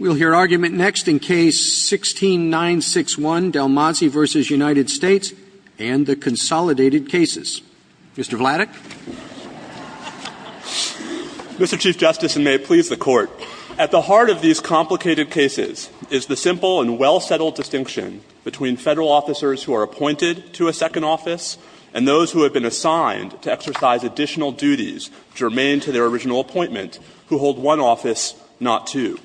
and the Consolidated Cases. Mr. Vladeck. Mr. Chief Justice, and may it please the Court, at the heart of these complicated cases is the simple and well-settled distinction between Federal officers who are appointed to a second office and those who have been assigned to exercise additional duties germane to their original appointment, who hold one office, not two.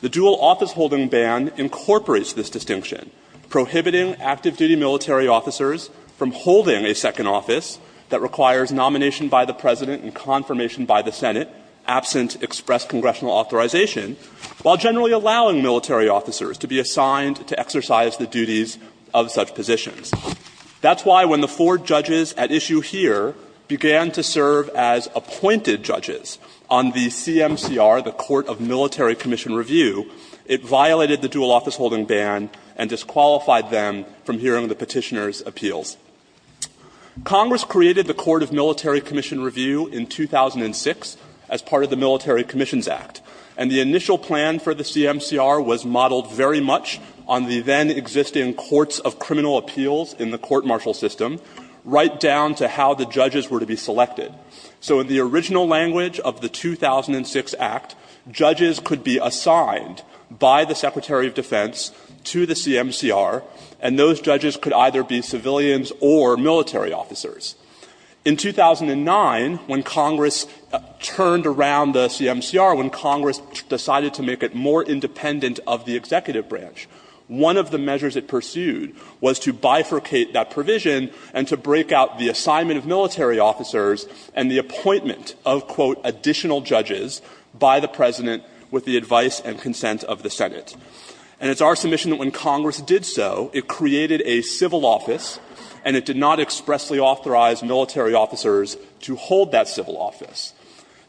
The dual office-holding ban incorporates this distinction, prohibiting active-duty military officers from holding a second office that requires nomination by the President and confirmation by the Senate, absent express congressional authorization, while generally allowing military officers to be assigned to exercise the duties of such positions. That's why when the four judges at issue here began to serve as appointed judges on the CMCR, the Court of Military Commission Review, it violated the dual office-holding ban and disqualified them from hearing the Petitioner's appeals. Congress created the Court of Military Commission Review in 2006 as part of the Military Commissions Act, and the initial plan for the CMCR was modeled very much on the then-existing courts of criminal appeals in the court-martial system, right down to how the judges were to be selected. So in the original language of the 2006 Act, judges could be assigned by the Secretary of Defense to the CMCR, and those judges could either be civilians or military officers. In 2009, when Congress turned around the CMCR, when Congress decided to make it more independent of the executive branch, one of the measures it pursued was to bifurcate that provision and to break out the assignment of military officers and the appointment of, quote, additional judges by the President with the advice and consent of the Senate. And it's our submission that when Congress did so, it created a civil office, and it did not expressly authorize military officers to hold that civil office.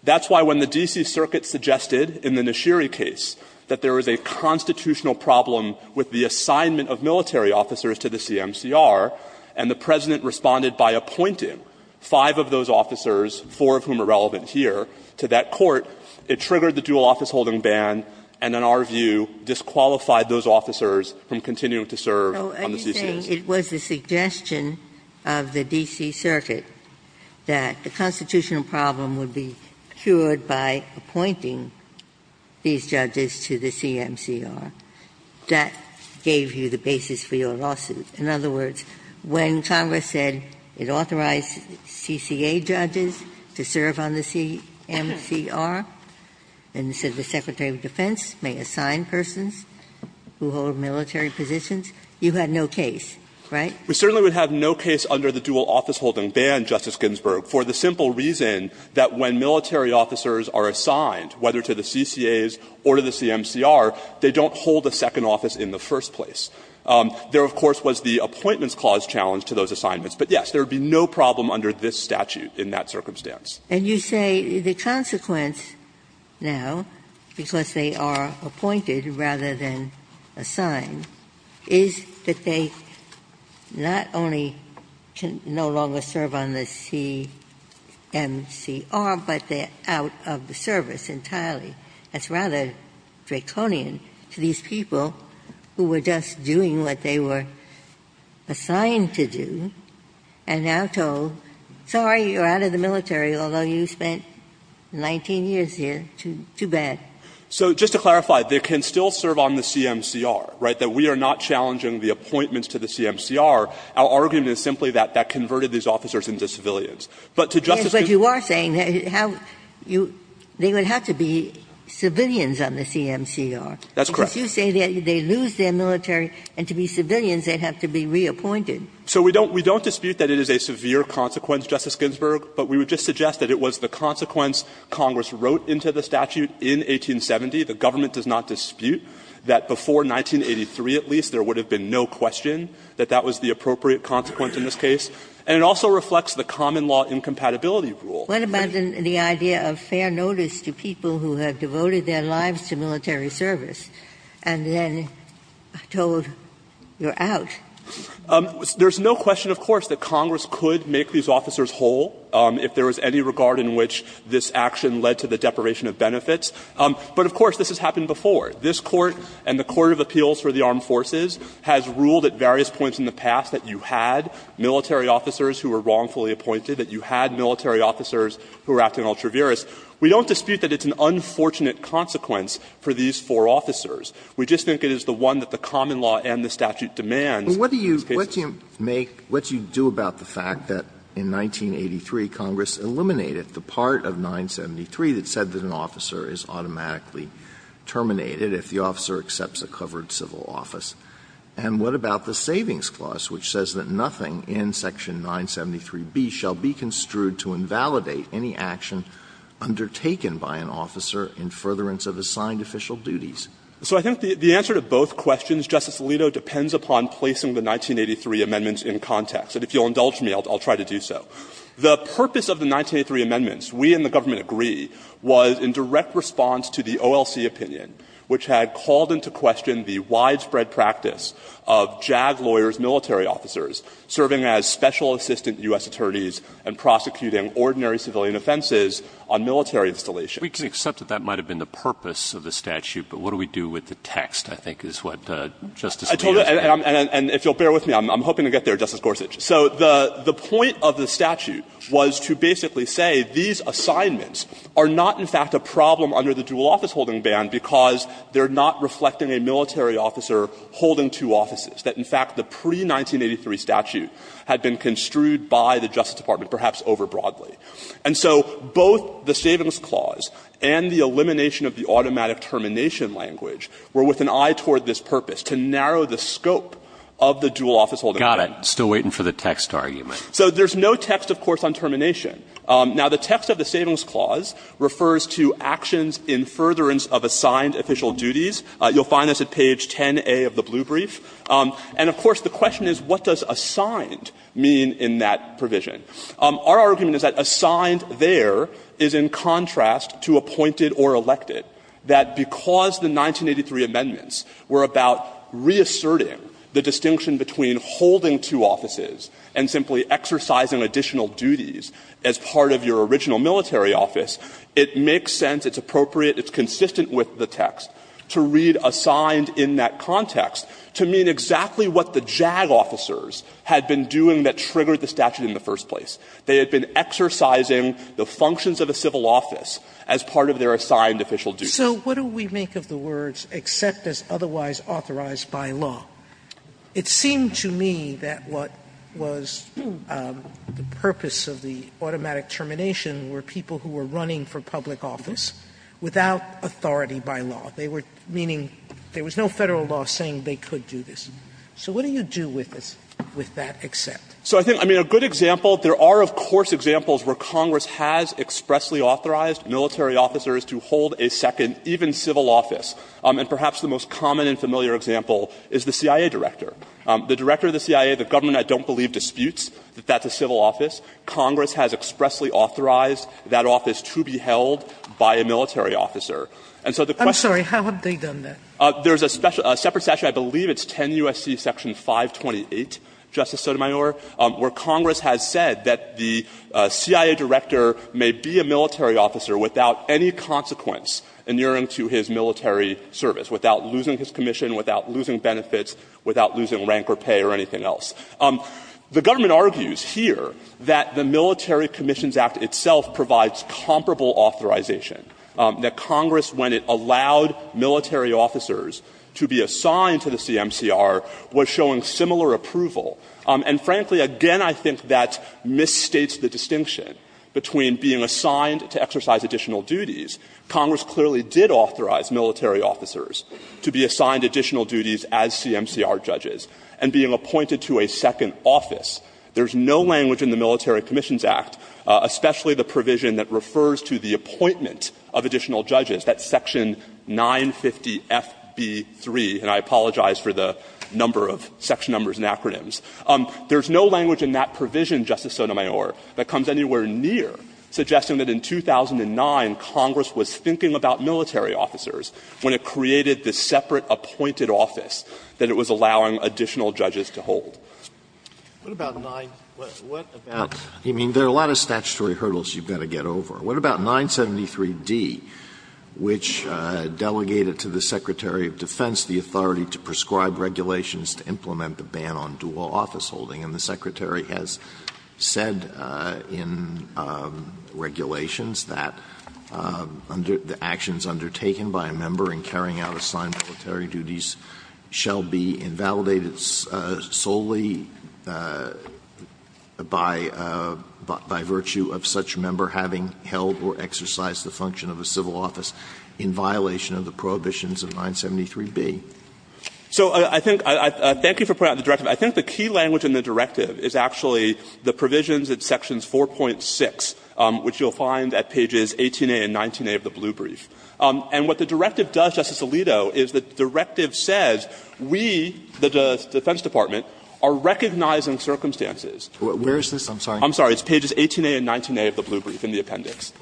That's why when the D.C. Circuit suggested in the Nashiri case that there is a constitutional problem with the assignment of military officers to the CMCR, and the President responded by appointing five of those officers, four of whom are relevant here, to that court, it triggered the dual office-holding ban and, in our view, disqualified those officers from continuing to serve on the CCRs. Ginsburg. Are you saying it was a suggestion of the D.C. Circuit that the constitutional problem would be cured by appointing these judges to the CMCR? That gave you the basis for your lawsuit. In other words, when Congress said it authorized CCA judges to serve on the CMCR, and said the Secretary of Defense may assign persons who hold military positions, you had no case, right? We certainly would have no case under the dual office-holding ban, Justice Ginsburg, for the simple reason that when military officers are assigned, whether to the CCAs or to the CMCR, they don't hold a second office in the first place. There, of course, was the Appointments Clause challenge to those assignments. But, yes, there would be no problem under this statute in that circumstance. And you say the consequence now, because they are appointed rather than assigned, is that they not only can no longer serve on the CMCR, but they are out of the service entirely. That's rather draconian to these people who were just doing what they were assigned to do and now told, sorry, you're out of the military, although you spent 19 years here, too bad. So just to clarify, they can still serve on the CMCR, right? But we are not challenging the appointments to the CMCR. Our argument is simply that that converted these officers into civilians. But to Justice Ginsburg's point, Justice Ginsburg, we would just suggest that it was the consequence Congress wrote into the statute in 1870. The government does not dispute that before 1983, at least, there would have been no question that that was the appropriate consequence in this case. And it also reflects the common law incompatibility rule. Ginsburg. Ginsburg. What about the idea of fair notice to people who have devoted their lives to military service and then told, you're out? There's no question, of course, that Congress could make these officers whole if there was any regard in which this action led to the deprivation of benefits. But, of course, this has happened before. This Court and the Court of Appeals for the Armed Forces has ruled at various points in the past that you had military officers who were wrongfully appointed, that you had military officers who were acting ultra-virus. We don't dispute that it's an unfortunate consequence for these four officers. We just think it is the one that the common law and the statute demands. Alito, what do you make – what do you do about the fact that in 1983, Congress eliminated the part of 973 that said that an officer is automatically terminated if the officer accepts a covered civil office? And what about the savings clause which says that nothing in section 973b shall be construed to invalidate any action undertaken by an officer in furtherance of assigned official duties? So I think the answer to both questions, Justice Alito, depends upon placing the 1983 amendments in context. And if you'll indulge me, I'll try to do so. The purpose of the 1983 amendments, we and the government agree, was in direct response to the OLC opinion, which had called into question the widespread practice of JAG lawyers' military officers serving as special assistant U.S. attorneys and prosecuting ordinary civilian offenses on military installations. Roberts. We can accept that that might have been the purpose of the statute, but what do we do with the text, I think, is what Justice Alito is saying. I told you, and if you'll bear with me, I'm hoping to get there, Justice Gorsuch. So the point of the statute was to basically say these assignments are not, in fact, a problem under the dual office holding ban because they're not reflecting a military officer holding two offices, that, in fact, the pre-1983 statute had been construed by the Justice Department, perhaps overbroadly. And so both the savings clause and the elimination of the automatic termination language were with an eye toward this purpose, to narrow the scope of the dual office holding ban. Roberts. Got it. Still waiting for the text argument. So there's no text, of course, on termination. Now, the text of the savings clause refers to actions in furtherance of assigned official duties. You'll find this at page 10a of the blue brief. And, of course, the question is what does assigned mean in that provision? Our argument is that assigned there is in contrast to appointed or elected, that because the 1983 amendments were about reasserting the distinction between holding two offices and simply exercising additional duties as part of your original military office, it makes sense, it's appropriate, it's consistent with the text to read assigned in that context to mean exactly what the JAG officers had been doing that triggered the statute in the first place. They had been exercising the functions of a civil office as part of their assigned official duties. Sotomayor So what do we make of the words except as otherwise authorized by law? It seemed to me that what was the purpose of the automatic termination were people who were running for public office without authority by law. They were meaning there was no Federal law saying they could do this. So what do you do with this, with that except? So I think, I mean, a good example, there are, of course, examples where Congress has expressly authorized military officers to hold a second, even civil office. And perhaps the most common and familiar example is the CIA director. The director of the CIA, the government I don't believe disputes that that's a civil office, Congress has expressly authorized that office to be held by a military officer. And so the question is the question is there's a separate statute, I believe it's 10 U.S.C. section 528, Justice Sotomayor, where Congress has said that the CIA director may be a military officer without any consequence inuring to his military service, without losing his commission, without losing benefits, without losing rank or pay or anything else. The government argues here that the Military Commissions Act itself provides comparable authorization, that Congress, when it allowed military officers to be assigned to the CMCR, was showing similar approval. And frankly, again, I think that misstates the distinction between being assigned to exercise additional duties. Congress clearly did authorize military officers to be assigned additional duties as CMCR judges and being appointed to a second office. There's no language in the Military Commissions Act, especially the provision that refers to the appointment of additional judges, that's section 950FB3, and I apologize for the number of section numbers and acronyms. There's no language in that provision, Justice Sotomayor, that comes anywhere near suggesting that in 2009 Congress was thinking about military officers when it created this separate appointed office that it was allowing additional judges to hold. What about 9 – what about – I mean, there are a lot of statutory hurdles you've got to get over. What about 973D, which delegated to the Secretary of Defense the authority to prescribe regulations to implement the ban on dual office holding? And the Secretary has said in regulations that the actions undertaken by a member in carrying out assigned military duties shall be invalidated solely by virtue of such member having held or exercised the function of a civil office in violation of the prohibitions of 973B. So I think – thank you for pointing out the directive. I think the key language in the directive is actually the provisions at sections 4.6, which you'll find at pages 18a and 19a of the blue brief. And what the directive does, Justice Alito, is the directive says we, the Defense Department, are recognizing circumstances. Where is this? I'm sorry. I'm sorry. It's pages 18a and 19a of the blue brief in the appendix.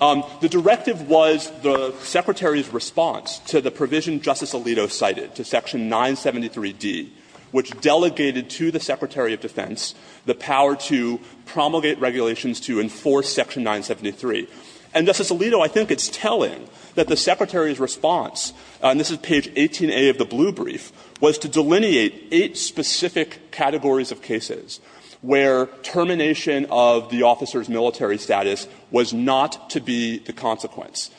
The directive was the Secretary's response to the provision Justice Alito cited to section 973D, which delegated to the Secretary of Defense the power to promulgate regulations to enforce section 973. And, Justice Alito, I think it's telling that the Secretary's response, and this is page 18a of the blue brief, was to delineate eight specific categories of cases where termination of the officer's military status was not to be the consequence,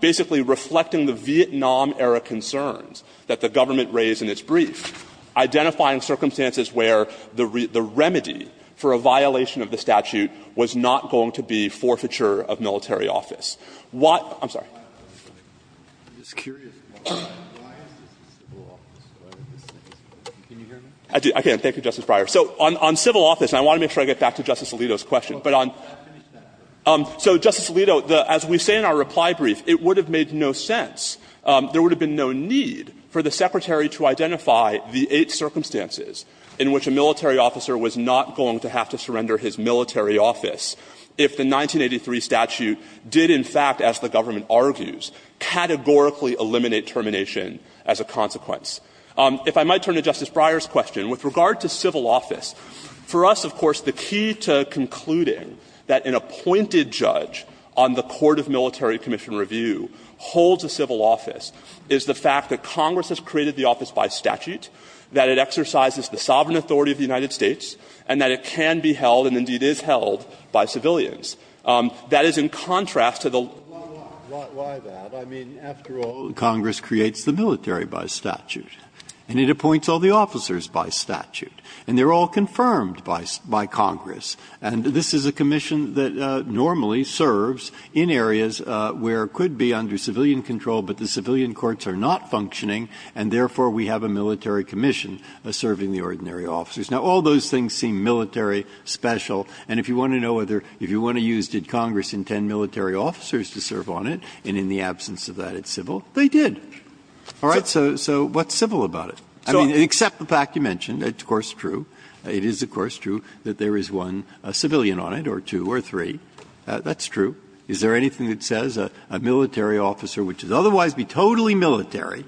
basically reflecting the Vietnam-era concerns that the government raised in its brief, identifying circumstances where the remedy for a violation of the statute was not going to be forfeiture of military office. What – I'm sorry. I'm just curious why this is the civil office, whether this is – can you hear me? I can. Thank you, Justice Breyer. So on civil office, and I want to make sure I get back to Justice Alito's question. But on – so, Justice Alito, as we say in our reply brief, it would have made no sense, there would have been no need for the Secretary to identify the eight circumstances in which a military officer was not going to have to surrender his military office if the 1983 statute did, in fact, as the government argues, categorically eliminate termination as a consequence. If I might turn to Justice Breyer's question, with regard to civil office, for us, of course, the key to concluding that an appointed judge on the Court of Military Commission Review holds a civil office is the fact that Congress has created the office by statute, that it exercises the sovereign authority of the United States, and that it can be held and indeed is held by civilians. That is in contrast to the law. Breyer, I mean, after all, Congress creates the military by statute. And it appoints all the officers by statute. And they're all confirmed by Congress. And this is a commission that normally serves in areas where it could be under civilian control, but the civilian courts are not functioning, and therefore, we have a military commission serving the ordinary officers. Now, all those things seem military, special, and if you want to know whether – if you want to use did Congress intend military officers to serve on it, and in the absence of that, it's civil, they did. Breyer, so what's civil about it? I mean, except the fact you mentioned, it's of course true, it is of course true that there is one civilian on it, or two, or three. That's true. Is there anything that says a military officer, which would otherwise be totally military,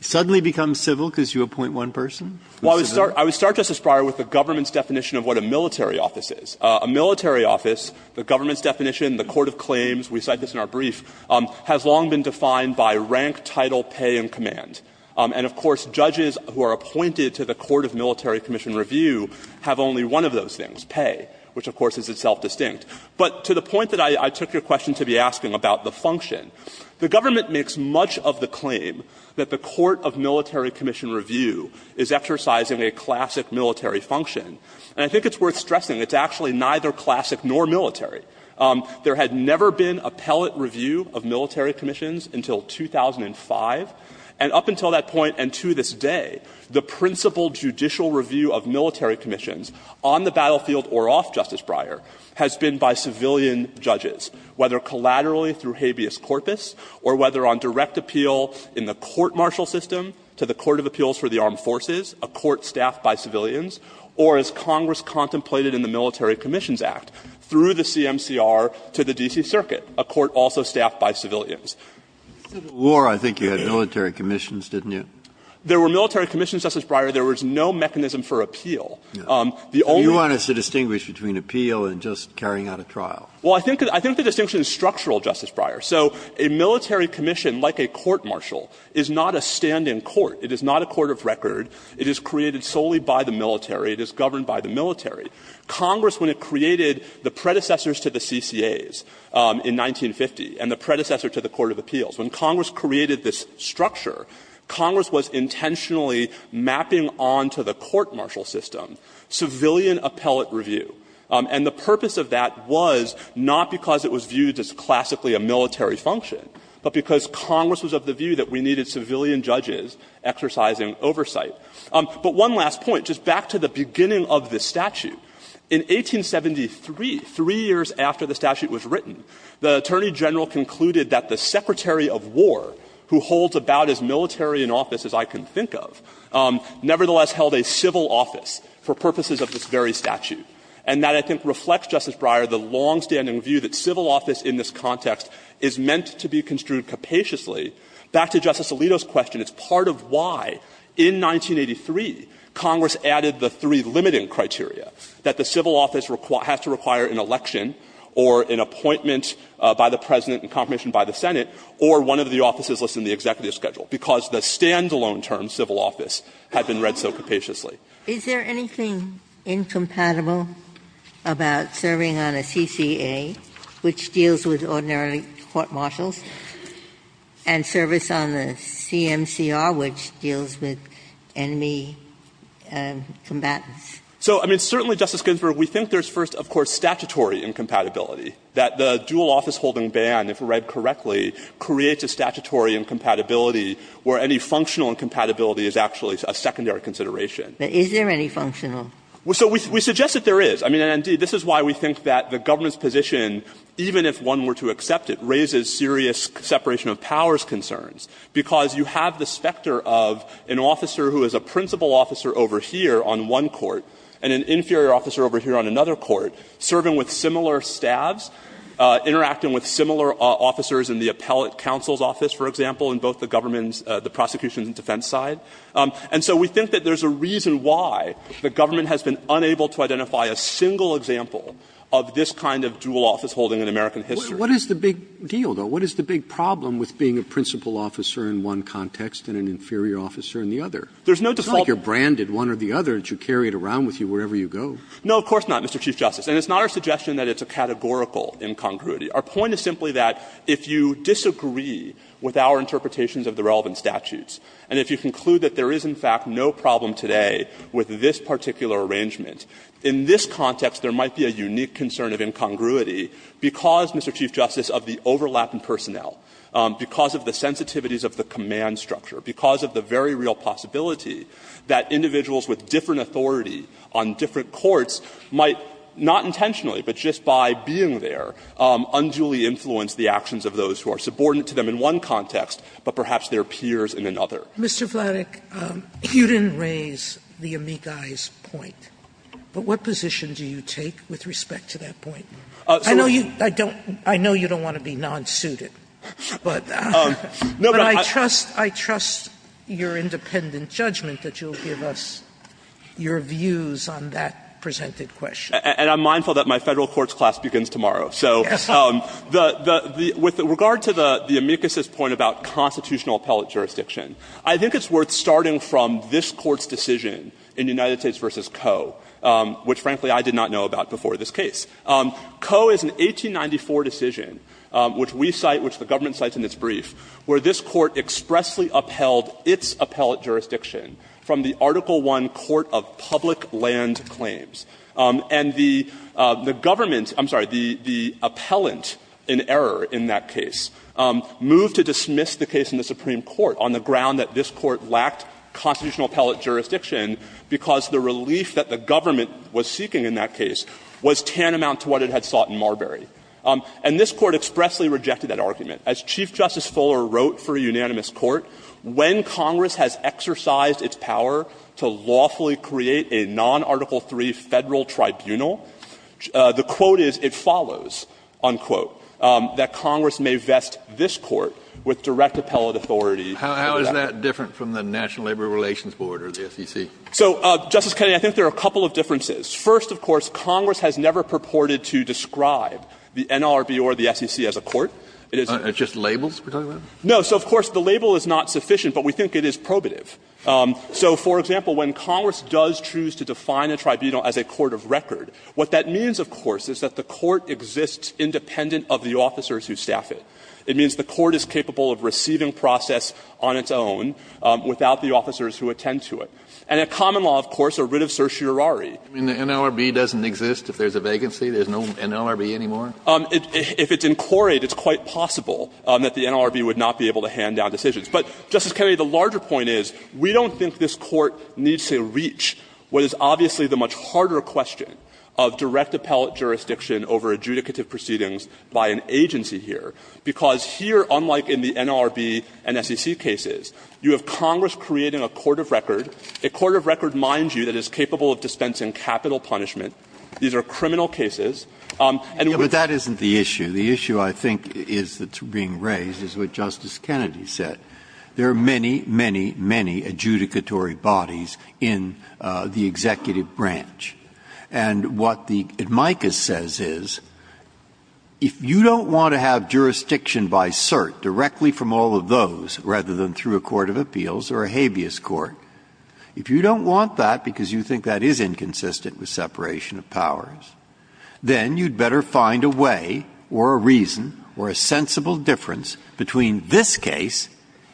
suddenly becomes civil because you appoint one person? Well, I would start, Justice Breyer, with the government's definition of what a military office is. A military office, the government's definition, the court of claims, we cite this in our brief, has long been defined by rank, title, pay, and command. And of course, judges who are appointed to the court of military commission review have only one of those things, pay, which of course is itself distinct. But to the point that I took your question to be asking about the function, the government makes much of the claim that the court of military commission review is exercising a classic military function. And I think it's worth stressing it's actually neither classic nor military. There had never been appellate review of military commissions until 2005. And up until that point and to this day, the principal judicial review of military commissions on the battlefield or off, Justice Breyer, has been by civilian judges, whether collaterally through habeas corpus or whether on direct appeal in the court marshal system to the court of appeals for the armed forces, a court staffed by civilians, or as Congress contemplated in the Military Commissions Act, through the CMCR to the D.C. Circuit, a court also staffed by civilians. Breyer, I think you had military commissions, didn't you? There were military commissions, Justice Breyer. There was no mechanism for appeal. The only one is to distinguish between appeal and just carrying out a trial. Well, I think the distinction is structural, Justice Breyer. So a military commission, like a court marshal, is not a stand-in court. It is not a court of record. It is created solely by the military. It is governed by the military. Congress, when it created the predecessors to the CCAs in 1950 and the predecessor to the court of appeals, when Congress created this structure, Congress was intentionally mapping on to the court marshal system civilian appellate review. And the purpose of that was not because it was viewed as classically a military function, but because Congress was of the view that we needed civilian judges exercising oversight. But one last point, just back to the beginning of this statute. In 1873, three years after the statute was written, the Attorney General concluded that the Secretary of War, who holds about as military an office as I can think of, nevertheless held a civil office for purposes of this very statute. And that, I think, reflects, Justice Breyer, the longstanding view that civil office in this context is meant to be construed capaciously. Back to Justice Alito's question, it's part of why, in 1983, Congress added the three limiting criteria, that the civil office has to require an election or an appointment by the President and confirmation by the Senate or one of the offices listed in the executive schedule, because the standalone term, civil office, had been read so capaciously. Ginsburg's question, is there anything incompatible about serving on a CCA, which deals with ordinarily court-martials, and service on a CMCR, which deals with enemy combatants? So, I mean, certainly, Justice Ginsburg, we think there's first, of course, statutory incompatibility, that the dual office-holding ban, if read correctly, creates a statutory incompatibility where any functional incompatibility is actually a secondary Ginsburg's question, is there any functional? So we suggest that there is. I mean, indeed, this is why we think that the government's position, even if one were to accept it, raises serious separation of powers concerns, because you have the specter of an officer who is a principal officer over here on one court and an inferior officer over here on another court, serving with similar staffs, interacting with similar officers in the appellate counsel's office, for example, in both the government's, the prosecution's and defense side. And so we think that there's a reason why the government has been unable to identify a single example of this kind of dual office-holding in American history. Roberts. What is the big deal, though? What is the big problem with being a principal officer in one context and an inferior officer in the other? There's no default. It's not like you're branded one or the other, that you carry it around with you wherever you go. No, of course not, Mr. Chief Justice. And it's not our suggestion that it's a categorical incongruity. Our point is simply that if you disagree with our interpretations of the relevant statutes, and if you conclude that there is, in fact, no problem today with this particular arrangement, in this context there might be a unique concern of incongruity because, Mr. Chief Justice, of the overlap in personnel, because of the sensitivities of the command structure, because of the very real possibility that individuals with different authority on different courts might not intentionally, but just by being there, unduly influence the actions of those who are subordinate to them in one context, but perhaps their peers in another. Sotomayor, you didn't raise the amicis point, but what position do you take with respect to that point? I know you don't want to be non-suited, but I trust your independent judgment that you'll give us your views on that presented question. And I'm mindful that my Federal Courts class begins tomorrow. So with regard to the amicis point about constitutional appellate jurisdiction, I think it's worth starting from this Court's decision in United States v. Coe, which, frankly, I did not know about before this case. Coe is an 1894 decision, which we cite, which the government cites in its brief, where this Court expressly upheld its appellate jurisdiction from the Article I Court of Public Land Claims. And the government – I'm sorry, the appellant in error in that case moved to dismiss the case in the Supreme Court on the ground that this Court lacked constitutional appellate jurisdiction because the relief that the government was seeking in that case was tantamount to what it had sought in Marbury. And this Court expressly rejected that argument. As Chief Justice Fuller wrote for a unanimous court, when Congress has exercised its power to lawfully create a non-Article III Federal tribunal, the quote is, it follows, unquote, that Congress may vest this Court with direct appellate authority to do that. Kennedy, I think there are a couple of differences. First, of course, Congress has never purported to describe the NRB or the SEC as a court. It is a – Kennedy, it's just labels we're talking about? No. So, of course, the label is not sufficient, but we think it is probative. So, for example, when Congress does choose to define a tribunal as a court of record, what that means, of course, is that the court exists independent of the officers who staff it. It means the court is capable of receiving process on its own without the officers who attend to it. And a common law, of course, a writ of certiorari. Kennedy, the NRB doesn't exist if there's a vacancy? There's no NRB anymore? If it's incorate, it's quite possible that the NRB would not be able to hand down decisions. But, Justice Kennedy, the larger point is, we don't think this Court needs to reach what is obviously the much harder question of direct appellate jurisdiction over adjudicative proceedings by an agency here, because here, unlike in the NRB and SEC cases, you have Congress creating a court of record, a court of record, mind you, that is capable of dispensing capital punishment. These are criminal cases, and with the NRB, the NRB would not be able to do that. Breyer, but that isn't the issue. The issue, I think, is that's being raised is what Justice Kennedy said. There are many, many, many adjudicatory bodies in the executive branch. And what the amicus says is, if you don't want to have jurisdiction by cert directly from all of those, rather than through a court of appeals or a habeas court, if you don't want that because you think that is inconsistent with separation of powers, then you'd better find a way or a reason or a sensible difference between this case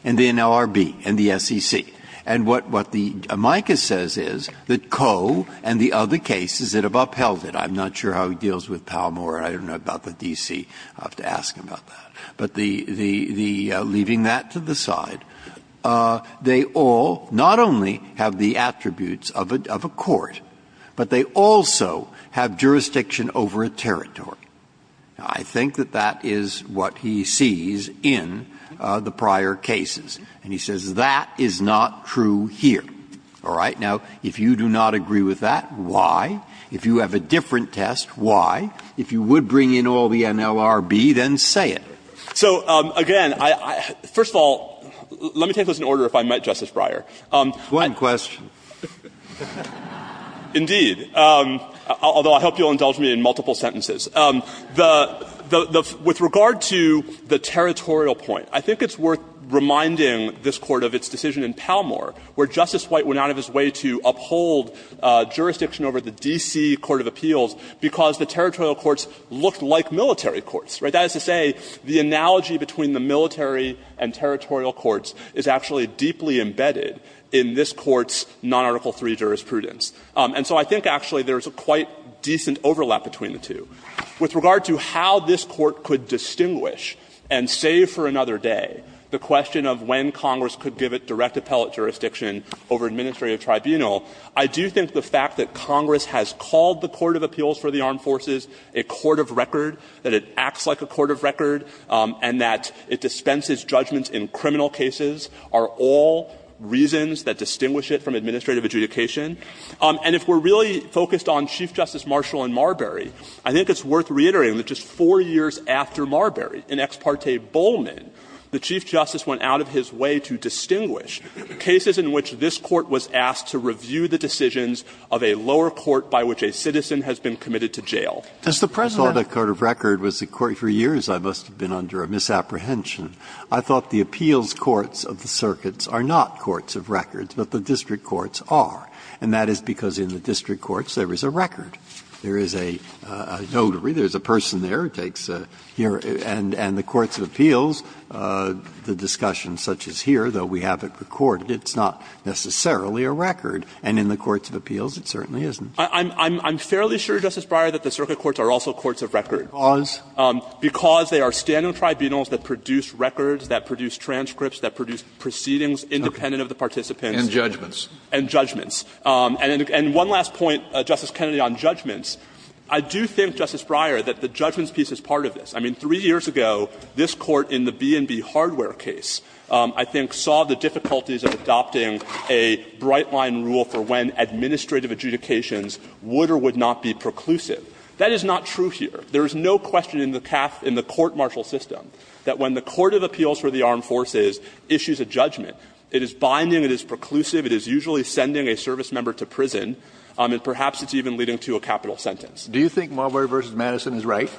and the NRB and the SEC. And what the amicus says is that Coe and the other cases that have upheld it, I'm not sure how he deals with Palmore, I don't know about the D.C., I'll have to ask him about that, but the leaving that to the side, they all not only have the attributes of a court, but they also have jurisdiction over a territory. I think that that is what he sees in the prior cases. And he says that is not true here. All right? Now, if you do not agree with that, why? If you have a different test, why? If you would bring in all the NLRB, then say it. So, again, I — first of all, let me take this in order if I might, Justice Breyer. I — Breyer, go ahead. That's a good question. Indeed. Although I hope you'll indulge me in multiple sentences. The — with regard to the territorial point, I think it's worth reminding this Court of its decision in Palmore, where Justice White went out of his way to uphold jurisdiction over the D.C. Court of Appeals, because the territorial courts look like military courts, right? That is to say, the analogy between the military and territorial courts is actually deeply embedded in this Court's non-Article III jurisprudence. And so I think, actually, there's a quite decent overlap between the two. With regard to how this Court could distinguish, and save for another day, the question of when Congress could give it direct appellate jurisdiction over administrative tribunal, I do think the fact that Congress has called the Court of Appeals for the Armed Forces a court of record, that it acts like a court of record, and that it dispenses judgments in criminal cases, are all reasons that distinguish it from administrative adjudication. And if we're really focused on Chief Justice Marshall and Marbury, I think it's worth reiterating that just four years after Marbury, in Ex parte Bowman, the Chief Justice went out of his way to distinguish cases in which this Court was asked to review the decisions of a lower court by which a citizen has been committed to jail. Breyer. Breyer, I thought a court of record was a court of record for years. I must have been under a misapprehension. I thought the appeals courts of the circuits are not courts of records, but the district courts are. And that is because in the district courts there is a record. There is a notary, there is a person there who takes a here, and the courts of appeals, the discussion such as here, though we have it recorded, it's not necessarily a record. And in the courts of appeals, it certainly isn't. I'm fairly sure, Justice Breyer, that the circuit courts are also courts of record. Because? Because they are standing tribunals that produce records, that produce transcripts, that produce proceedings independent of the participants. And judgments. And judgments. And one last point, Justice Kennedy, on judgments. I do think, Justice Breyer, that the judgments piece is part of this. I mean, three years ago, this Court in the B&B hardware case, I think, saw the difficulties of adopting a bright-line rule for when administrative adjudications would or would not be preclusive. That is not true here. There is no question in the court-martial system that when the court of appeals for the armed forces issues a judgment, it is binding, it is preclusive, it is usually sending a service member to prison, and perhaps it's even leading to a capital sentence. Do you think Marbury v. Madison is right?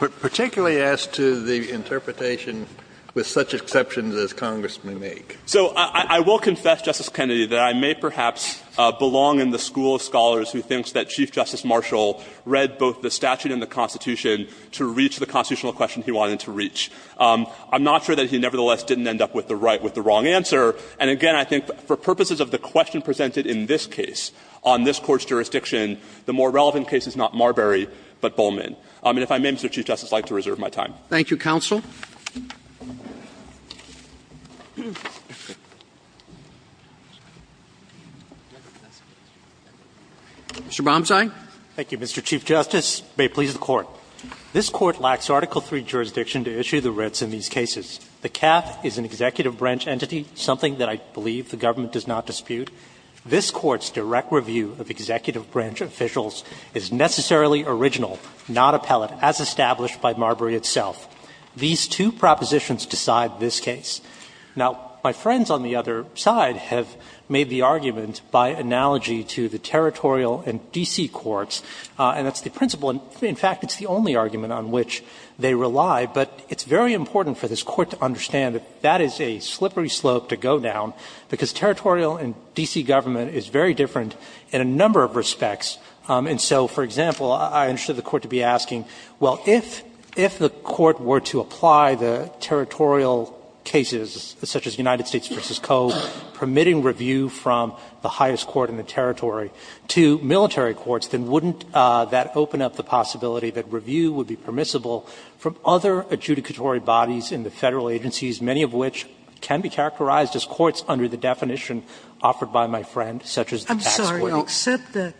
But particularly as to the interpretation with such exceptions as Congress may make. So I will confess, Justice Kennedy, that I may perhaps belong in the school of scholars who thinks that Chief Justice Marshall read both the statute and the Constitution to reach the constitutional question he wanted to reach. I'm not sure that he nevertheless didn't end up with the right with the wrong answer. And again, I think for purposes of the question presented in this case on this Court's jurisdiction, the more relevant case is not Marbury but Bowman. And if I may, Mr. Chief Justice, I'd like to reserve my time. Roberts. Thank you, counsel. Mr. Bomsai. Thank you, Mr. Chief Justice. May it please the Court. This Court lacks Article III jurisdiction to issue the writs in these cases. The CAF is an executive branch entity, something that I believe the government does not dispute. This Court's direct review of executive branch officials is necessarily original, not appellate, as established by Marbury itself. These two propositions decide this case. Now, my friends on the other side have made the argument by analogy to the territorial and D.C. courts, and that's the principle. In fact, it's the only argument on which they rely, but it's very important for this Court to understand that that is a slippery slope to go down, because territorial and D.C. government is very different in a number of respects. And so, for example, I understood the Court to be asking, well, if the Court were to apply the territorial cases, such as United States v. Cove, permitting review from the highest court in the territory to military courts, then wouldn't that open up the possibility that review would be permissible from other adjudicatory bodies in the Federal agencies, many of which can be characterized as courts under the definition offered by my friend, such as the tax court? Sotomayor, I'm sorry, except that,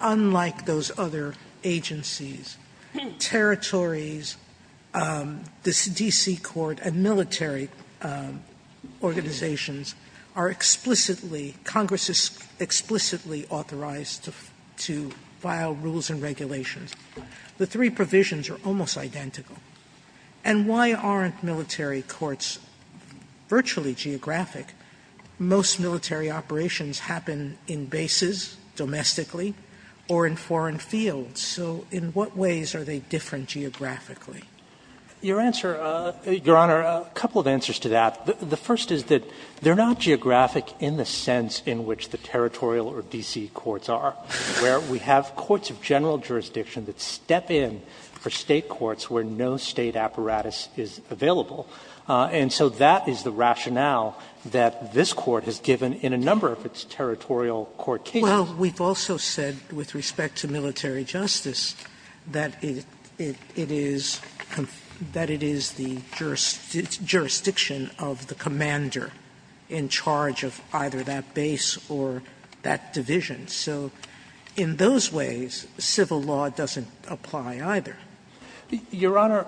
unlike those other agencies, territories, the D.C. court and military organizations are explicitly, Congress is explicitly authorized to file rules and regulations. The three provisions are almost identical. And why aren't military courts virtually geographic? Most military operations happen in bases, domestically, or in foreign fields. So in what ways are they different geographically? Your answer, Your Honor, a couple of answers to that. The first is that they're not geographic in the sense in which the territorial or D.C. courts are, where we have courts of general jurisdiction that step in for no State apparatus is available. And so that is the rationale that this Court has given in a number of its territorial court cases. Sotomayor, we've also said with respect to military justice that it is the jurisdiction of the commander in charge of either that base or that division. So in those ways, civil law doesn't apply either. Your Honor,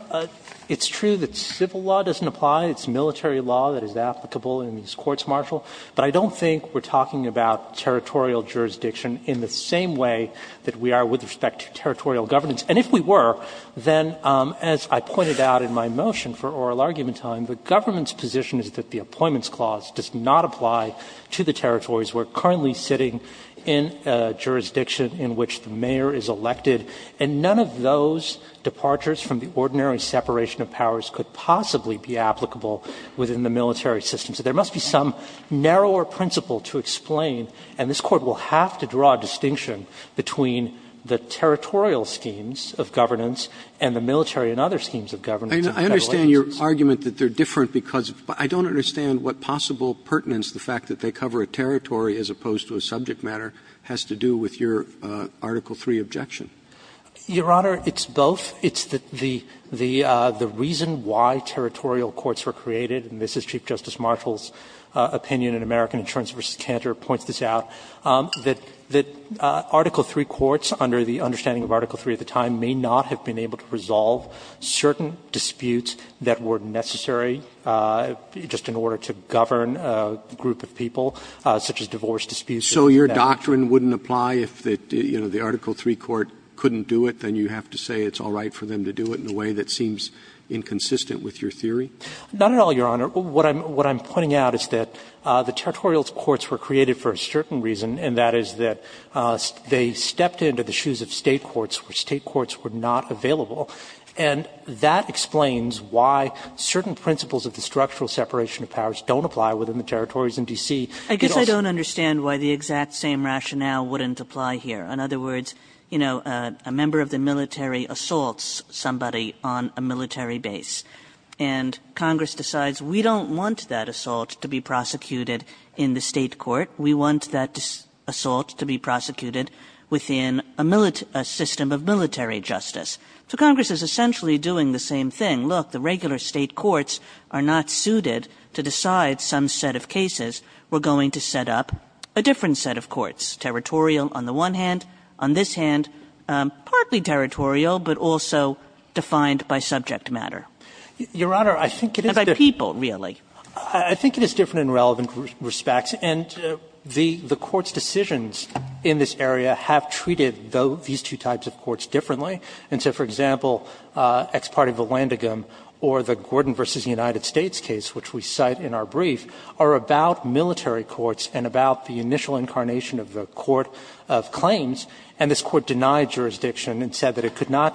it's true that civil law doesn't apply. It's military law that is applicable in these courts, Marshal. But I don't think we're talking about territorial jurisdiction in the same way that we are with respect to territorial governance. And if we were, then, as I pointed out in my motion for oral argument time, the government's position is that the Appointments Clause does not apply to the territories we're currently sitting in a jurisdiction in which the mayor is elected. And none of those departures from the ordinary separation of powers could possibly be applicable within the military system. So there must be some narrower principle to explain, and this Court will have to draw a distinction between the territorial schemes of governance and the military and other schemes of governance in Federal agencies. Roberts, I understand your argument that they're different because I don't understand what possible pertinence the fact that they cover a territory as opposed to a subject matter has to do with your Article III objection. Your Honor, it's both. It's the reason why territorial courts were created, and this is Chief Justice Marshal's opinion in American Insurance v. Cantor points this out, that Article III courts, under the understanding of Article III at the time, may not have been able to resolve certain disputes that were necessary just in order to govern a group of people, such as divorce disputes. So your doctrine wouldn't apply if the Article III court couldn't do it? Then you have to say it's all right for them to do it in a way that seems inconsistent with your theory? Not at all, Your Honor. What I'm pointing out is that the territorial courts were created for a certain reason, and that is that they stepped into the shoes of State courts where State courts were not available. And that explains why certain principles of the structural separation of powers don't apply within the territories in D.C. I guess I don't understand why the exact same rationale wouldn't apply here. In other words, you know, a member of the military assaults somebody on a military base, and Congress decides we don't want that assault to be prosecuted in the State court. We want that assault to be prosecuted within a system of military justice. So Congress is essentially doing the same thing. Look, the regular State courts are not suited to decide some set of cases. We're going to set up a different set of courts, territorial on the one hand, on this hand, partly territorial, but also defined by subject matter. Your Honor, I think it is different. And by people, really. I think it is different in relevant respects. And the court's decisions in this area have treated these two types of courts differently. And so, for example, ex parte of the Landigam or the Gordon v. United States case, which we cite in our brief, are about military courts and about the initial incarnation of the court of claims. And this Court denied jurisdiction and said that it could not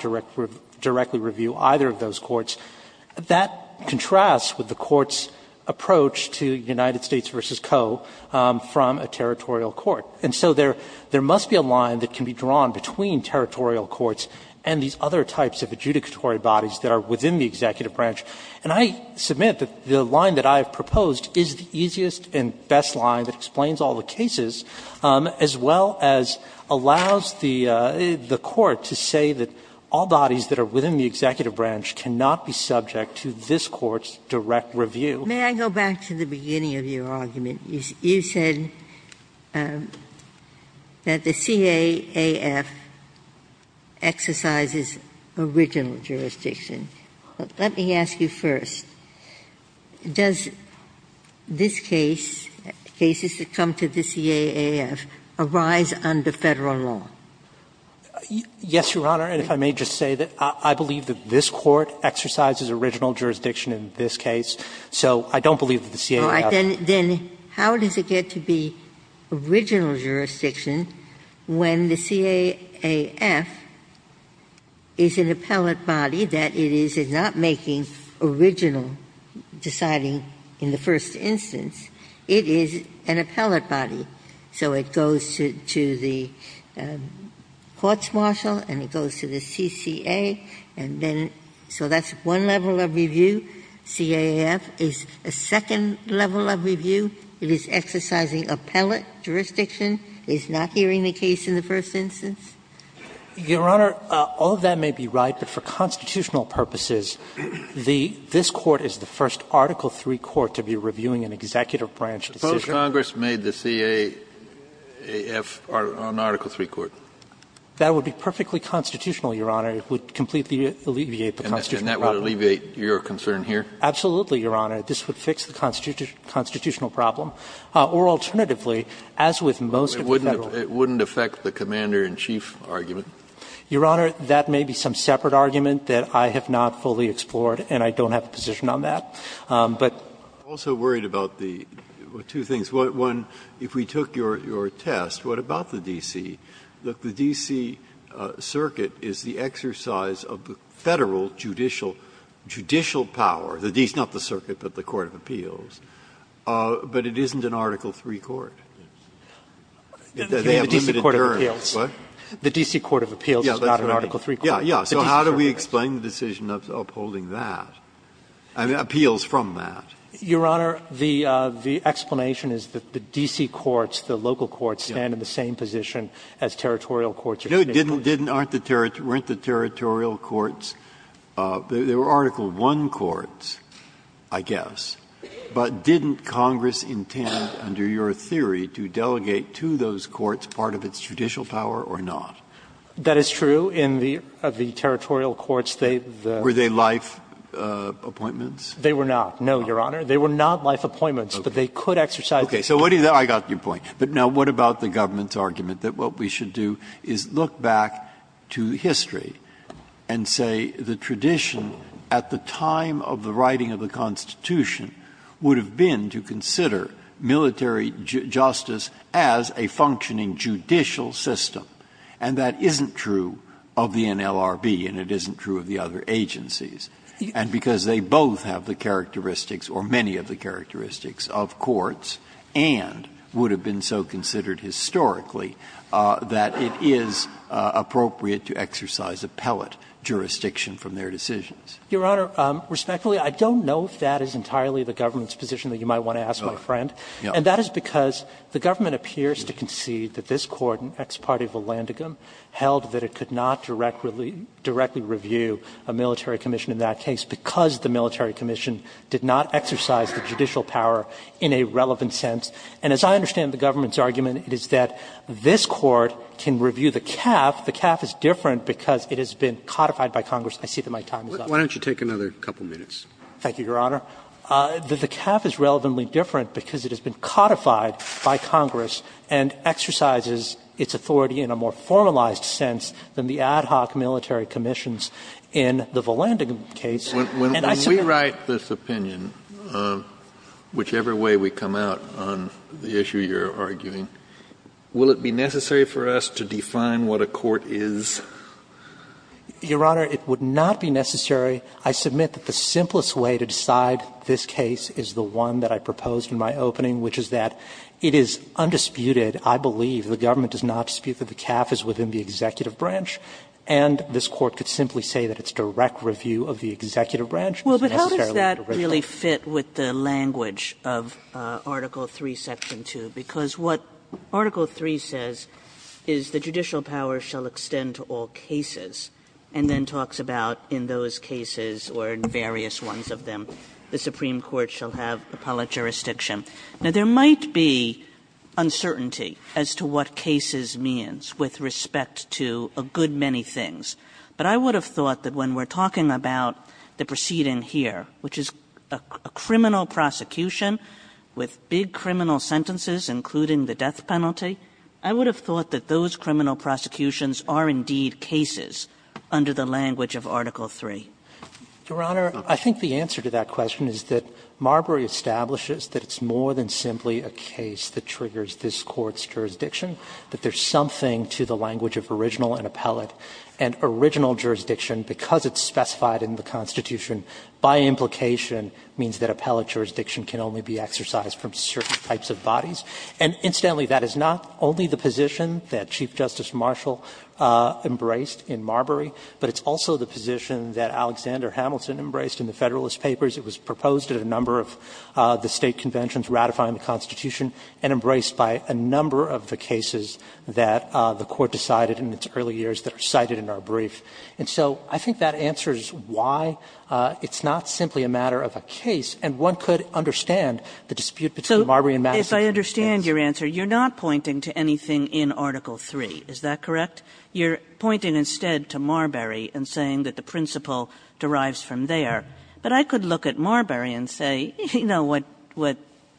directly review either of those courts. That contrasts with the Court's approach to United States v. Co. from a territorial court. And so there must be a line that can be drawn between territorial courts and these other types of adjudicatory bodies that are within the executive branch. And I submit that the line that I have proposed is the easiest and best line that explains all the cases, as well as allows the Court to say that all bodies that are within the executive branch cannot be subject to this Court's direct review. Ginsburg-Miller May I go back to the beginning of your argument? You said that the CAAF exercises original jurisdiction. Let me ask you first. Does this case, cases that come to the CAAF, arise under Federal law? Gershengorn Yes, Your Honor. And if I may just say that I believe that this Court exercises original jurisdiction in this case. So I don't believe that the CAAF Ginsburg-Miller All right. Then how does it get to be original jurisdiction when the CAAF is an appellate body that it is not making original deciding in the first instance? It is an appellate body. So it goes to the courts-martial and it goes to the CCA, and then so that's one level of review. CAAF is a second level of review. It is exercising appellate jurisdiction. It's not hearing the case in the first instance? Gershengorn Your Honor, all of that may be right, but for constitutional purposes, the this Court is the first Article III court to be reviewing an executive branch decision. Kennedy Suppose Congress made the CAAF an Article III court? Gershengorn That would be perfectly constitutional, Your Honor. It would completely alleviate the constitutional problem. Kennedy And that would alleviate your concern here? Gershengorn Absolutely, Your Honor. This would fix the constitutional problem. Or alternatively, as with most of the Federal law. Kennedy It wouldn't affect the commander-in-chief argument? Gershengorn Your Honor, that may be some separate argument that I have not fully explored and I don't have a position on that, but. Breyer I'm also worried about the two things. One, if we took your test, what about the D.C.? The D.C. circuit is the exercise of the Federal judicial power, the D is not the circuit, but the court of appeals, but it isn't an Article III court. They have limited terms. Gershengorn The D.C. court of appeals is not an Article III court. Breyer So how do we explain the decision of upholding that, appeals from that? Gershengorn Your Honor, the explanation is that the D.C. courts, the local courts, stand in the same position as territorial courts. Breyer Didn't aren't the territorial courts, they were Article I courts, I guess. But didn't Congress intend, under your theory, to delegate to those courts part of its judicial power or not? Gershengorn That is true. In the territorial courts, they've the the Breyer Were they life appointments? Gershengorn They were not, no, Your Honor. They were not life appointments, but they could exercise the Breyer Okay. So what do you think? I got your point. But now what about the government's argument that what we should do is look back to history and say the tradition at the time of the writing of the Constitution would have been to consider military justice as a functioning judicial system. And that isn't true of the NLRB, and it isn't true of the other agencies. And because they both have the characteristics or many of the characteristics of courts, and would have been so considered historically, that it is appropriate to exercise appellate jurisdiction from their decisions. Gershengorn Your Honor, respectfully, I don't know if that is entirely the government's position that you might want to ask my friend. And that is because the government appears to concede that this Court in Ex parte Volandigam held that it could not directly review a military commission in that case because the military commission did not exercise the judicial power in a relevant sense. And as I understand the government's argument, it is that this Court can review the CAF. The CAF is different because it has been codified by Congress. I see that my time is up. Roberts Why don't you take another couple minutes? Gershengorn Thank you, Your Honor. The CAF is relevantly different because it has been codified by Congress and exercises its authority in a more formalized sense than the ad hoc military commissions in the Volandigam case. Kennedy When we write this opinion, whichever way we come out on the issue you are arguing, will it be necessary for us to define what a court is? Gershengorn Your Honor, it would not be necessary. I submit that the simplest way to decide this case is the one that I proposed in my opening, which is that it is undisputed, I believe, the government does not dispute that the CAF is within the executive branch, and this Court could simply say that its direct review of the executive branch is necessarily the original. Kagan Well, but how does that really fit with the language of Article III, Section 2? Because what Article III says is the judicial power shall extend to all cases, and then talks about in those cases or in various ones of them, the Supreme Court shall have appellate jurisdiction. Now, there might be uncertainty as to what cases means with respect to a good many things, but I would have thought that when we are talking about the proceeding here, which is a criminal prosecution with big criminal sentences, including the death penalty, I would have thought that those criminal prosecutions are indeed cases under the language of Article III. Gershengorn Your Honor, I think the answer to that question is that Marbury establishes that it's more than simply a case that triggers this Court's jurisdiction, that there is something to the language of original and appellate. And original jurisdiction, because it's specified in the Constitution, by implication means that appellate jurisdiction can only be exercised from certain types of bodies. And incidentally, that is not only the position that Chief Justice Marshall embraced in Marbury, but it's also the position that Alexander Hamilton embraced in the Federalist Papers. It was proposed at a number of the State conventions ratifying the Constitution and embraced by a number of the cases that the Court decided in its early years that are cited in our brief. And so I think that answers why it's not simply a matter of a case, and one could understand the dispute between Marbury and Madison. Kagan So if I understand your answer, you're not pointing to anything in Article III, is that correct? You're pointing instead to Marbury and saying that the principle derives from there. But I could look at Marbury and say, you know, what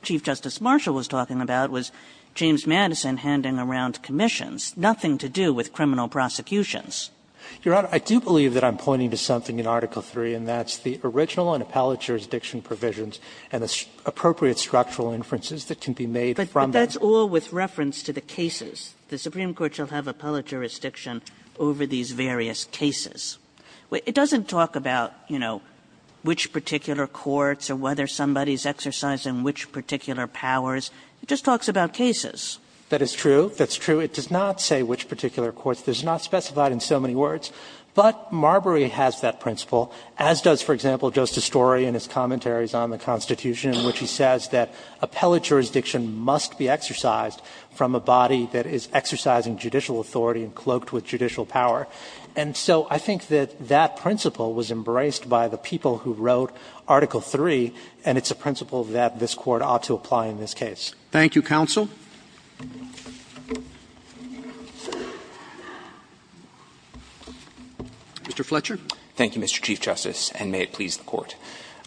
Chief Justice Marshall was talking about was James Madison handing around commissions, nothing to do with criminal prosecutions. Katyala Your Honor, I do believe that I'm pointing to something in Article III, and that's the original and appellate jurisdiction provisions and the appropriate structural inferences that can be made from them. Kagan But that's all with reference to the cases. The Supreme Court shall have appellate jurisdiction over these various cases. It doesn't talk about, you know, which particular courts or whether somebody's exercised in which particular powers. It just talks about cases. Katyala That is true. That's true. It does not say which particular courts. It's not specified in so many words. But Marbury has that principle, as does, for example, Justice Story in his commentaries on the Constitution, in which he says that appellate jurisdiction must be exercised from a body that is exercising judicial authority and cloaked with judicial power. And so I think that that principle was embraced by the people who wrote Article III, and it's a principle that this Court ought to apply in this case. Roberts Thank you, counsel. Mr. Fletcher. Fletcher Thank you, Mr. Chief Justice, and may it please the Court.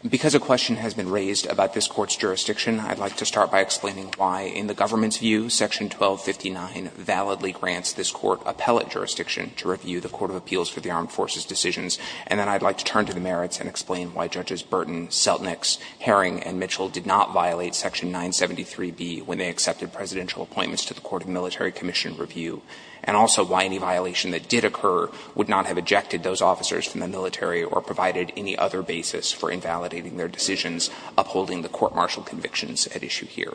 Because a question has been raised about this Court's jurisdiction, I'd like to start by explaining why in the government's view Section 1259 validly grants this Court appellate jurisdiction to review the Court of Appeals for the Armed Forces decisions, and then I'd like to turn to the merits and explain why Judges Burton, Seltnick, Herring, and Mitchell did not violate Section 973b when they accepted presidential appointments to the Court of Military Commission review, and also why any violation that did occur would not have ejected those officers from the military or provided any other basis for invalidating their decisions upholding the court-martial convictions at issue here.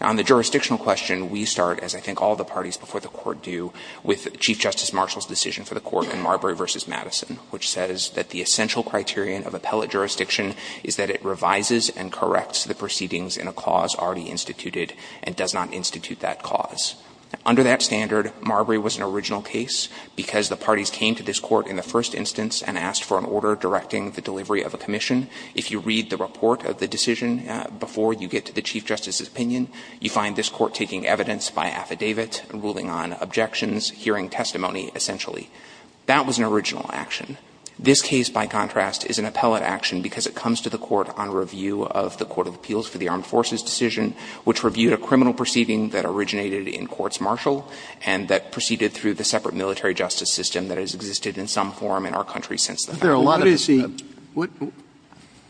Now, on the jurisdictional question, we start, as I think all the parties before the Court do, with Chief Justice Marshall's decision for the Court in Marbury v. Madison, which says that the essential criterion of appellate jurisdiction is that it revises and corrects the proceedings in a cause already instituted and does not institute that cause. Under that standard, Marbury was an original case because the parties came to this Court in the first instance and asked for an order directing the delivery of a commission. If you read the report of the decision before you get to the Chief Justice's ruling on affidavit, ruling on objections, hearing testimony, essentially, that was an original action. This case, by contrast, is an appellate action because it comes to the Court on review of the Court of Appeals for the Armed Forces decision, which reviewed a criminal proceeding that originated in courts-martial and that proceeded through the separate military justice system that has existed in some form in our country since the fact that we were there.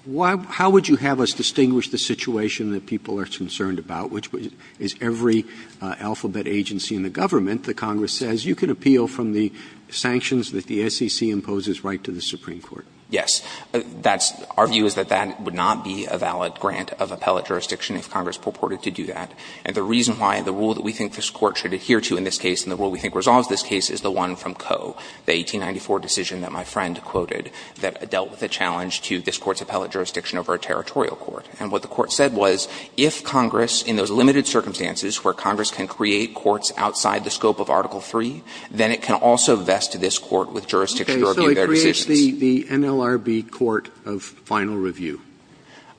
Roberts. How would you have us distinguish the situation that people are concerned about, which is every alphabet agency in the government, the Congress says, you can appeal from the sanctions that the SEC imposes right to the Supreme Court? Yes. That's – our view is that that would not be a valid grant of appellate jurisdiction if Congress purported to do that. And the reason why the rule that we think this Court should adhere to in this case and the rule we think resolves this case is the one from Coe, the 1894 decision that my friend quoted that dealt with the challenge to this Court's appellate jurisdiction over a territorial court. And what the Court said was, if Congress, in those limited circumstances where Congress can create courts outside the scope of Article III, then it can also vest this Court with jurisdiction to review their decisions. So it creates the NLRB court of final review.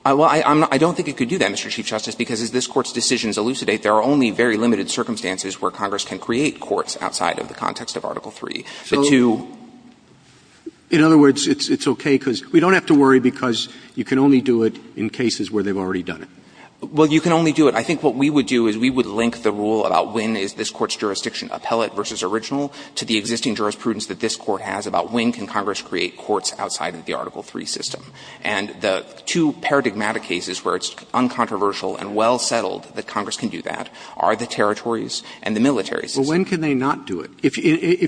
Well, I'm not – I don't think it could do that, Mr. Chief Justice, because as this Court's decisions elucidate, there are only very limited circumstances where Congress can create courts outside of the context of Article III. The two – So, in other words, it's okay because we don't have to worry because you can only do it in cases where they've already done it. Well, you can only do it – I think what we would do is we would link the rule about when is this Court's jurisdiction appellate versus original to the existing jurisprudence that this Court has about when can Congress create courts outside of the Article III system. And the two paradigmatic cases where it's uncontroversial and well-settled that Congress can do that are the territories and the military system. Well, when can they not do it? If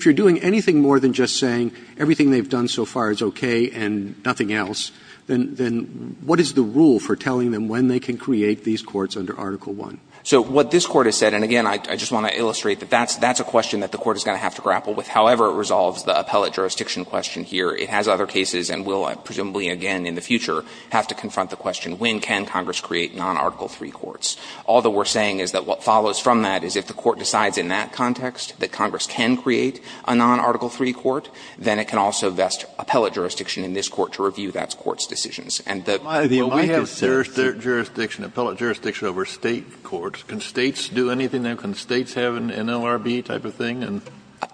you're doing anything more than just saying everything they've done so far is okay and nothing else, then what is the rule for telling them when they can create these courts under Article I? So what this Court has said – and again, I just want to illustrate that that's a question that the Court is going to have to grapple with. However it resolves the appellate jurisdiction question here, it has other cases and will presumably again in the future have to confront the question when can Congress create non-Article III courts. All that we're saying is that what follows from that is if the Court decides in that context that Congress can create a non-Article III court, then it can also vest appellate jurisdiction in this Court to review that Court's decisions. And the – Kennedy,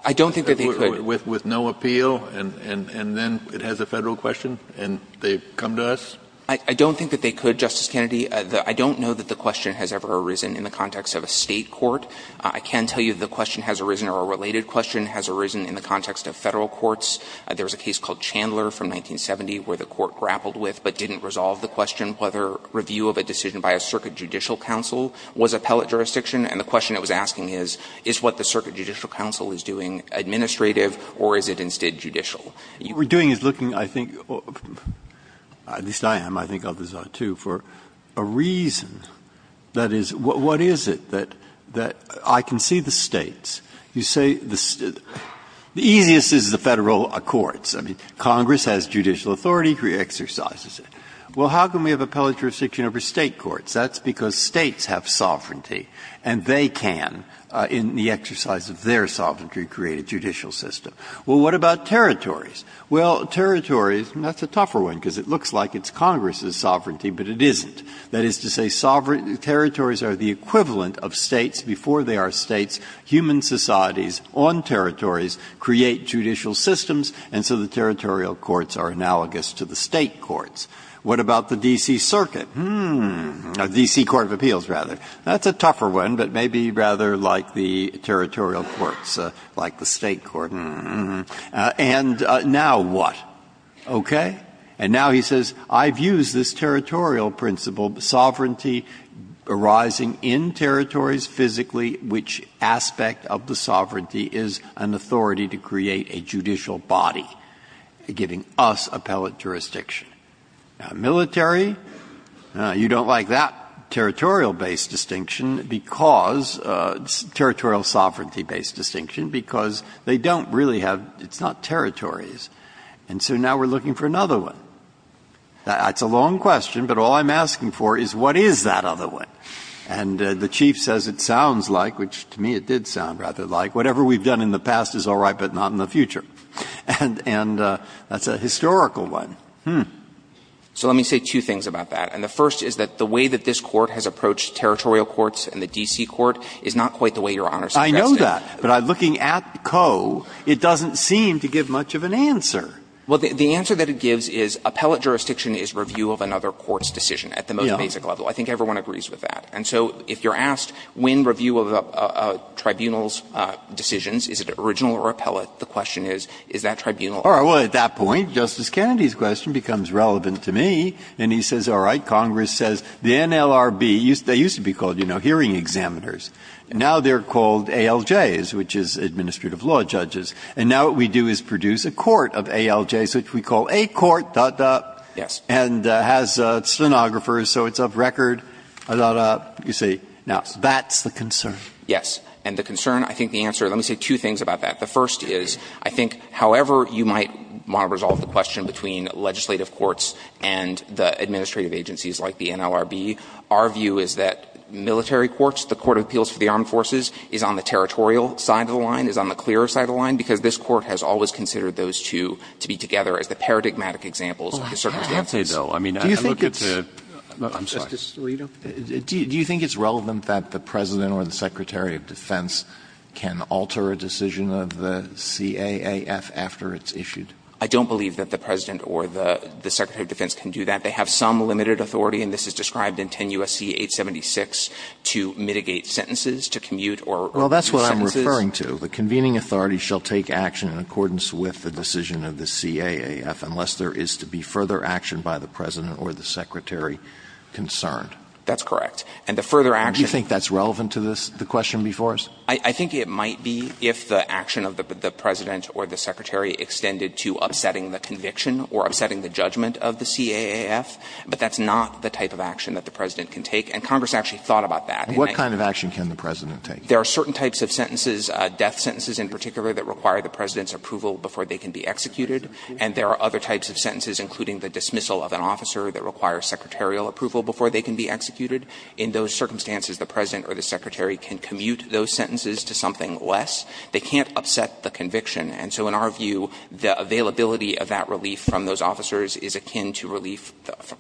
I don't think that they could. Kennedy, I don't know that the question has ever arisen in the context of a State court. I can tell you the question has arisen or a related question has arisen in the context of Federal courts. There was a case called Chandler from 1970 where the Court grappled with, but didn't resolve the question whether review of a decision by a circuit judicial counsel was appellate jurisdiction. And the question it was asking is, is what the circuit judicial counsel is doing administrative or is it instead judicial? Breyer, what we're doing is looking, I think, at least I am, I think others are too, for a reason. That is, what is it that I can see the States, you say, the easiest is the Federal courts. I mean, Congress has judicial authority, it re-exercises it. Well, how can we have appellate jurisdiction over State courts? That's because States have sovereignty and they can, in the exercise of their sovereignty, create a judicial system. Well, what about territories? Well, territories, that's a tougher one because it looks like it's Congress's sovereignty, but it isn't. That is to say, sovereign territories are the equivalent of States before they are States. Human societies on territories create judicial systems, and so the territorial courts are analogous to the State courts. What about the D.C. Circuit? Hmm. The D.C. Court of Appeals, rather. That's a tougher one, but maybe rather like the territorial courts, like the State court. Hmm. And now what? Okay. And now he says, I've used this territorial principle, sovereignty arising in territories physically, which aspect of the sovereignty is an authority to create a judicial body, giving us appellate jurisdiction. Military, you don't like that territorial-based distinction because – territorial sovereignty-based distinction because they don't really have – it's not territories. And so now we're looking for another one. That's a long question, but all I'm asking for is what is that other one? And the Chief says it sounds like, which to me it did sound rather like, whatever we've done in the past is all right, but not in the future. And that's a historical one. Hmm. So let me say two things about that. And the first is that the way that this Court has approached territorial courts and the D.C. Court is not quite the way Your Honor suggests it. I know that, but looking at Coe, it doesn't seem to give much of an answer. Well, the answer that it gives is appellate jurisdiction is review of another court's decision at the most basic level. I think everyone agrees with that. And so if you're asked when review of a tribunal's decisions, is it original or appellate, the question is, is that tribunal? All right. Well, at that point, Justice Kennedy's question becomes relevant to me, and he says, all right, Congress says the NLRB – they used to be called, you know, hearing examiners. Now they're called ALJs, which is administrative law judges. And now what we do is produce a court of ALJs, which we call a court, da, da. Yes. And has stenographers, so it's up record, da, da, you see. Now, that's the concern. Yes. And the concern, I think the answer – let me say two things about that. The first is, I think however you might want to resolve the question between legislative courts and the administrative agencies like the NLRB, our view is that military courts, the Court of Appeals for the Armed Forces, is on the territorial side of the line, is on the clearer side of the line, because this Court has always considered those two to be together as the paradigmatic examples of the circumstances. Alito, do you think it's relevant that the President or the Secretary of Defense can alter a decision of the CAAF after it's issued? I don't believe that the President or the Secretary of Defense can do that. They have some limited authority, and this is described in 10 U.S.C. 876, to mitigate sentences, to commute sentences. Well, that's what I'm referring to. So the convening authority shall take action in accordance with the decision of the CAAF unless there is to be further action by the President or the Secretary concerned. That's correct. And the further action – Do you think that's relevant to this, the question before us? I think it might be if the action of the President or the Secretary extended to upsetting the conviction or upsetting the judgment of the CAAF, but that's not the type of action that the President can take. And Congress actually thought about that. And what kind of action can the President take? There are certain types of sentences, death sentences in particular, that require the President's approval before they can be executed. And there are other types of sentences, including the dismissal of an officer that require secretarial approval before they can be executed. In those circumstances, the President or the Secretary can commute those sentences to something less. They can't upset the conviction. And so in our view, the availability of that relief from those officers is akin to relief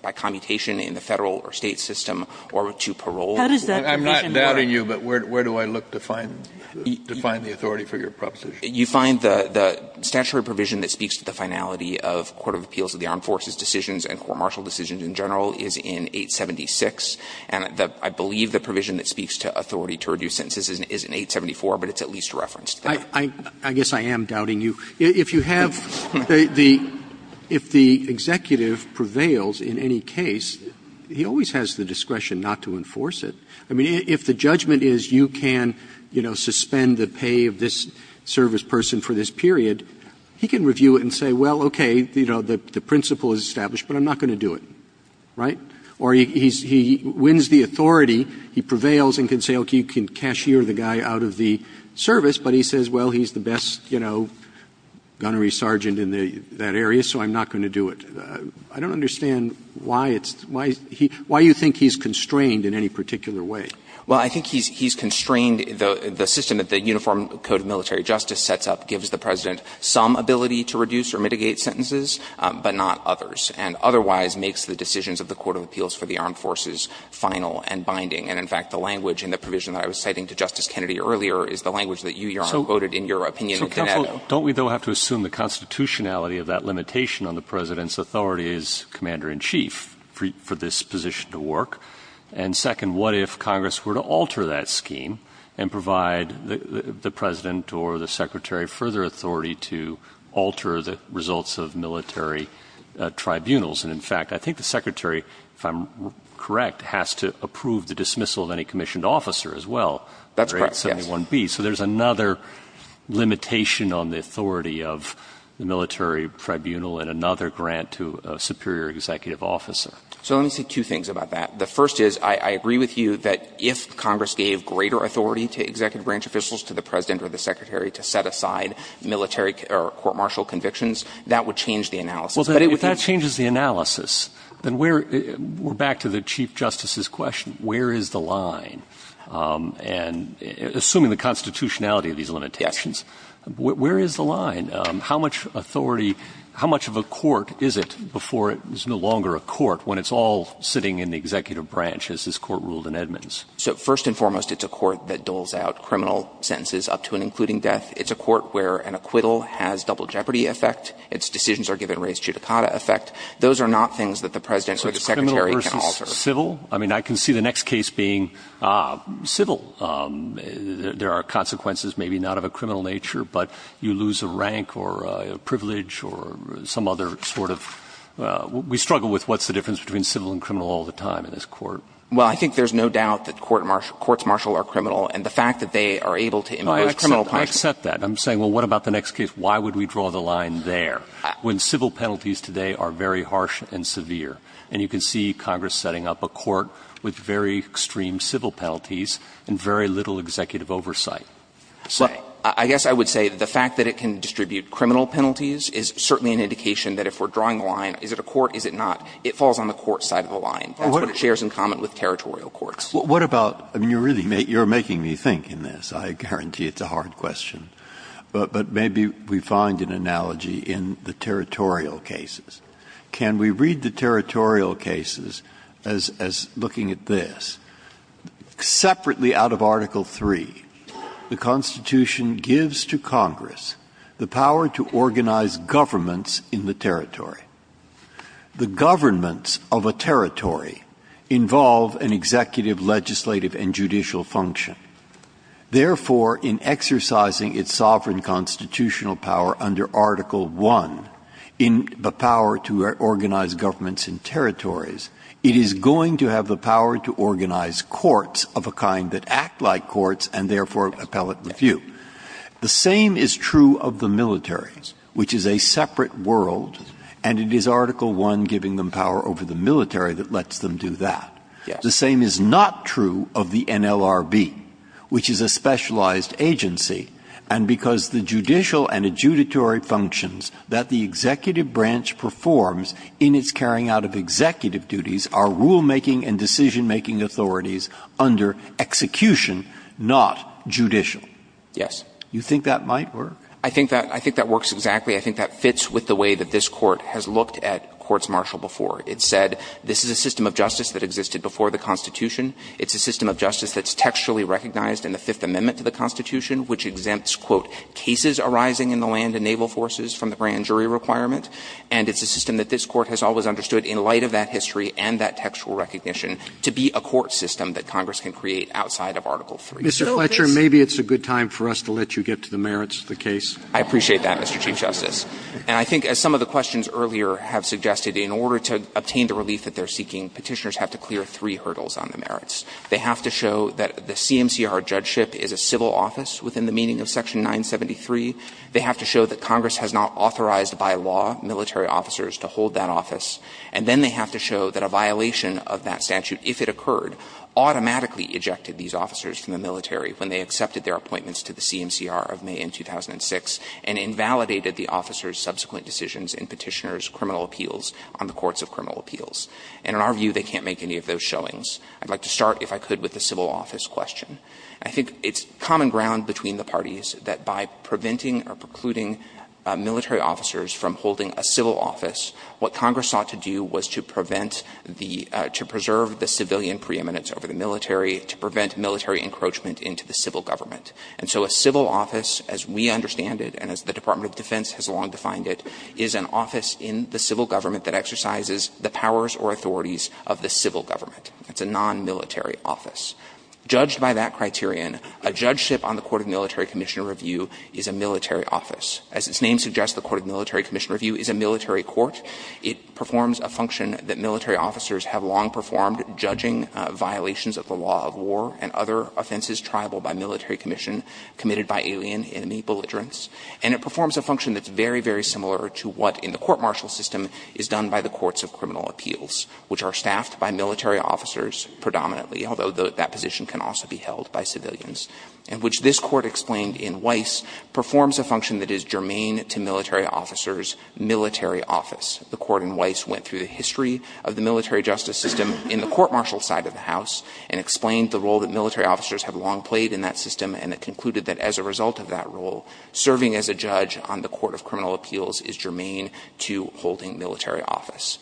by commutation in the Federal or State system or to parole. How does that condition work? Kennedy, but where do I look to find the authority for your proposition? You find the statutory provision that speaks to the finality of Court of Appeals of the Armed Forces decisions and court-martial decisions in general is in 876. And I believe the provision that speaks to authority to reduce sentences is in 874, but it's at least referenced there. I guess I am doubting you. If you have the – if the executive prevails in any case, he always has the discretion not to enforce it. I mean, if the judgment is you can, you know, suspend the pay of this service person for this period, he can review it and say, well, okay, you know, the principle is established, but I'm not going to do it, right? Or he wins the authority, he prevails and can say, okay, you can cashier the guy out of the service, but he says, well, he's the best, you know, gunnery sergeant in that area, so I'm not going to do it. I don't understand why it's – why you think he's constrained in any particular way. Well, I think he's constrained the system that the Uniform Code of Military Justice sets up gives the President some ability to reduce or mitigate sentences, but not others, and otherwise makes the decisions of the Court of Appeals for the Armed Forces final and binding. And, in fact, the language in the provision that I was citing to Justice Kennedy earlier is the language that you, Your Honor, quoted in your opinion in Dinetto. So careful, don't we, though, have to assume the constitutionality of that limitation on the President's authority as Commander-in-Chief for this position to work? And second, what if Congress were to alter that scheme and provide the President or the Secretary further authority to alter the results of military tribunals? And, in fact, I think the Secretary, if I'm correct, has to approve the dismissal of any commissioned officer as well. That's correct, yes. Under Act 71B. So there's another limitation on the authority of the military tribunal and another grant to a superior executive officer. So let me say two things about that. The first is, I agree with you that if Congress gave greater authority to executive branch officials, to the President or the Secretary, to set aside military or court-martial convictions, that would change the analysis. But it would be the same. Well, if that changes the analysis, then we're back to the Chief Justice's question, where is the line? And assuming the constitutionality of these limitations, where is the line? How much authority, how much of a court is it before it is no longer a court when it's all sitting in the executive branch, as this Court ruled in Edmonds? So, first and foremost, it's a court that doles out criminal sentences up to and including death. It's a court where an acquittal has double jeopardy effect. Its decisions are given raised judicata effect. Those are not things that the President or the Secretary can alter. Civil? I mean, I can see the next case being civil. There are consequences, maybe not of a criminal nature, but you lose a rank or a privilege or some other sort of, we struggle with what's the difference between civil and criminal all the time in this court. Well, I think there's no doubt that courts martial are criminal. And the fact that they are able to impose criminal punishment. I accept that. I'm saying, well, what about the next case? Why would we draw the line there, when civil penalties today are very harsh and severe? And you can see Congress setting up a court with very extreme civil penalties and very little executive oversight. So I guess I would say the fact that it can distribute criminal penalties is certainly an indication that if we're drawing the line, is it a court, is it not, it falls on the court side of the line. That's what it shares in common with territorial courts. What about, I mean, you're really making me think in this. I guarantee it's a hard question. But maybe we find an analogy in the territorial cases. Can we read the territorial cases as looking at this? Separately out of Article III, the Constitution gives to Congress the power to organize governments in the territory. The governments of a territory involve an executive, legislative, and judicial function. Therefore, in exercising its sovereign constitutional power under Article I, in the Constitution, it is going to have the power to organize governments in territories. It is going to have the power to organize courts of a kind that act like courts and therefore appellate the few. The same is true of the military, which is a separate world, and it is Article I giving them power over the military that lets them do that. The same is not true of the NLRB, which is a specialized agency, and because the judicial and adjudicatory functions that the executive branch performs in its carrying out of executive duties are rulemaking and decisionmaking authorities under execution, not judicial. Yes. You think that might work? I think that works exactly. I think that fits with the way that this Court has looked at courts martial before. It said this is a system of justice that existed before the Constitution. It's a system of justice that's textually recognized in the Fifth Amendment to the land and naval forces from the grand jury requirement, and it's a system that this Court has always understood in light of that history and that textual recognition to be a court system that Congress can create outside of Article III. Mr. Fletcher, maybe it's a good time for us to let you get to the merits of the case. I appreciate that, Mr. Chief Justice. And I think, as some of the questions earlier have suggested, in order to obtain the relief that they're seeking, Petitioners have to clear three hurdles on the merits. They have to show that the CMCR judgeship is a civil office within the meaning of Section 973. They have to show that Congress has not authorized, by law, military officers to hold that office. And then they have to show that a violation of that statute, if it occurred, automatically ejected these officers from the military when they accepted their appointments to the CMCR of May in 2006 and invalidated the officers' subsequent decisions in Petitioners' criminal appeals on the courts of criminal appeals. And in our view, they can't make any of those showings. I'd like to start, if I could, with the civil office question. I think it's common ground between the parties that by preventing or precluding military officers from holding a civil office, what Congress sought to do was to prevent the — to preserve the civilian preeminence over the military, to prevent military encroachment into the civil government. And so a civil office, as we understand it, and as the Department of Defense has long defined it, is an office in the civil government that exercises the powers or authorities of the civil government. It's a nonmilitary office. Judged by that criterion, a judgeship on the court of military commission review is a military office. As its name suggests, the court of military commission review is a military court. It performs a function that military officers have long performed judging violations of the law of war and other offenses triable by military commission committed by alien enemy belligerents. And it performs a function that's very, very similar to what in the court-martial is done by the courts of criminal appeals, which are staffed by military officers predominantly, although that position can also be held by civilians, and which this court explained in Weiss performs a function that is germane to military officers' military office. The court in Weiss went through the history of the military justice system in the court-martial side of the House and explained the role that military officers have long played in that system, and it concluded that as a result of that role, serving as a judge on the court of criminal appeals is germane to holding military office.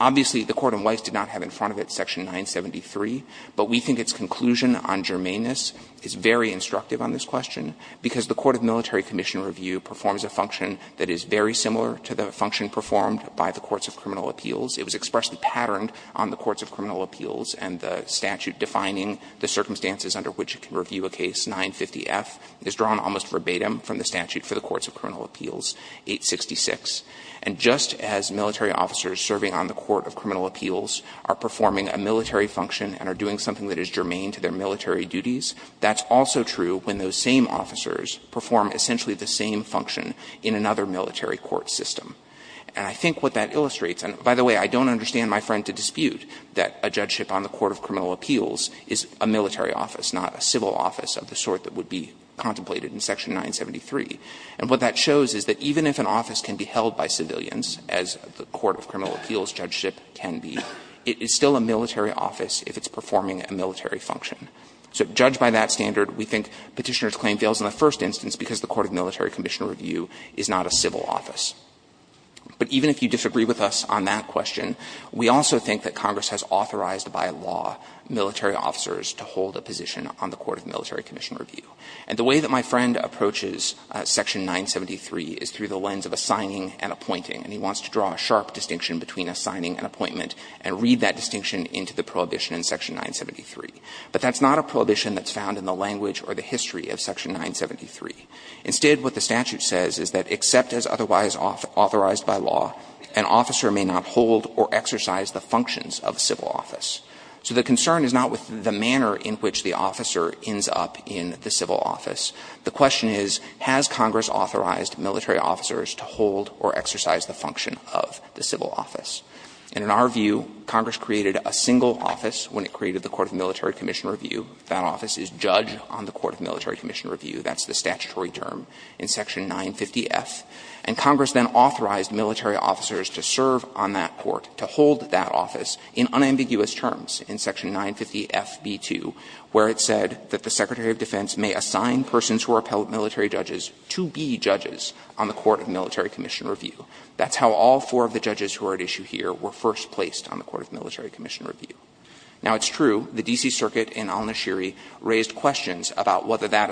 Obviously, the court in Weiss did not have in front of it section 973, but we think its conclusion on germaneness is very instructive on this question because the court of military commission review performs a function that is very similar to the function performed by the courts of criminal appeals. It was expressly patterned on the courts of criminal appeals, and the statute defining the circumstances under which it can review a case, 950F, is drawn almost verbatim from the statute for the courts of criminal appeals, 866. And just as military officers serving on the court of criminal appeals are performing a military function and are doing something that is germane to their military duties, that's also true when those same officers perform essentially the same function in another military court system. And I think what that illustrates, and by the way, I don't understand my friend to dispute that a judgeship on the court of criminal appeals is a military office, not a civil office of the sort that would be contemplated in section 973. And what that shows is that even if an office can be held by civilians, as the court of criminal appeals judgeship can be, it is still a military office if it's performing a military function. So judged by that standard, we think Petitioner's claim fails in the first instance because the court of military commission review is not a civil office. But even if you disagree with us on that question, we also think that Congress has authorized by law military officers to hold a position on the court of military commission review. And the way that my friend approaches section 973 is through the lens of a signing and appointing. And he wants to draw a sharp distinction between a signing and appointment and read that distinction into the prohibition in section 973. But that's not a prohibition that's found in the language or the history of section 973. Instead, what the statute says is that except as otherwise authorized by law, an officer may not hold or exercise the functions of a civil office. So the concern is not with the manner in which the officer ends up in the civil office. The question is, has Congress authorized military officers to hold or exercise the function of the civil office? And in our view, Congress created a single office when it created the court of military commission review. That office is judged on the court of military commission review. That's the statutory term in section 950F. And Congress then authorized military officers to serve on that court, to hold that office in unambiguous terms in section 950Fb2, where it said that the Secretary of Defense may assign persons who are appellate military judges to be judges on the court of military commission review. That's how all four of the judges who are at issue here were first placed on the court of military commission review. Now, it's true the D.C. Circuit in Al-Nashiri raised questions about whether that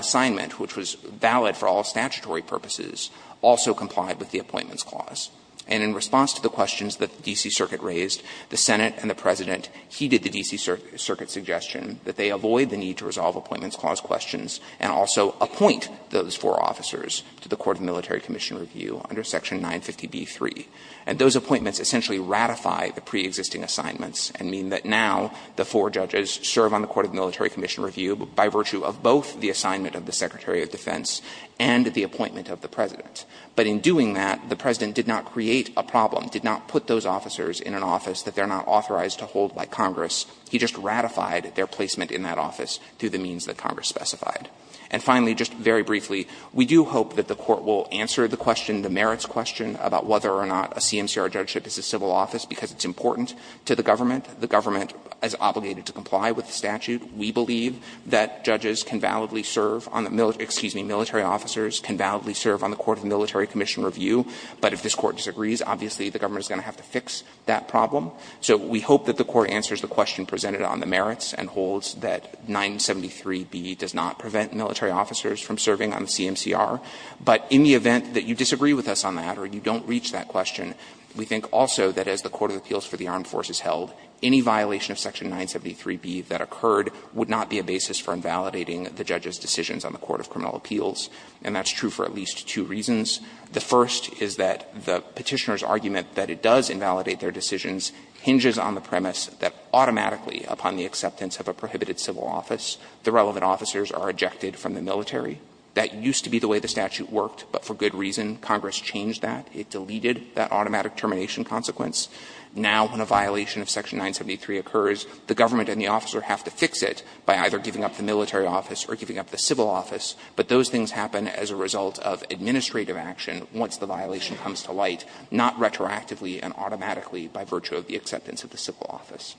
And in response to the questions that the D.C. Circuit raised, the Senate and the President heeded the D.C. Circuit's suggestion that they avoid the need to resolve Appointments Clause questions and also appoint those four officers to the court of military commission review under section 950B3. And those appointments essentially ratify the preexisting assignments and mean that now the four judges serve on the court of military commission review by virtue of both the assignment of the Secretary of Defense and the appointment of the President. But in doing that, the President did not create a problem, did not put those officers in an office that they're not authorized to hold by Congress. He just ratified their placement in that office through the means that Congress specified. And finally, just very briefly, we do hope that the Court will answer the question, the merits question, about whether or not a CMCR judgeship is a civil office, because it's important to the government. The government is obligated to comply with the statute. We believe that judges can validly serve on the military – excuse me, military officers can validly serve on the court of military commission review. But if this Court disagrees, obviously, the government is going to have to fix that problem. So we hope that the Court answers the question presented on the merits and holds that 973B does not prevent military officers from serving on the CMCR. But in the event that you disagree with us on that or you don't reach that question, we think also that as the Court of Appeals for the Armed Forces held, any violation of section 973B that occurred would not be a basis for invalidating the judge's decisions on the Court of Criminal Appeals. And that's true for at least two reasons. The first is that the Petitioner's argument that it does invalidate their decisions hinges on the premise that automatically upon the acceptance of a prohibited civil office, the relevant officers are ejected from the military. That used to be the way the statute worked, but for good reason. Congress changed that. It deleted that automatic termination consequence. Now, when a violation of section 973 occurs, the government and the officer have to fix it by either giving up the military office or giving up the civil office. But those things happen as a result of administrative action once the violation comes to light, not retroactively and automatically by virtue of the acceptance of the civil office.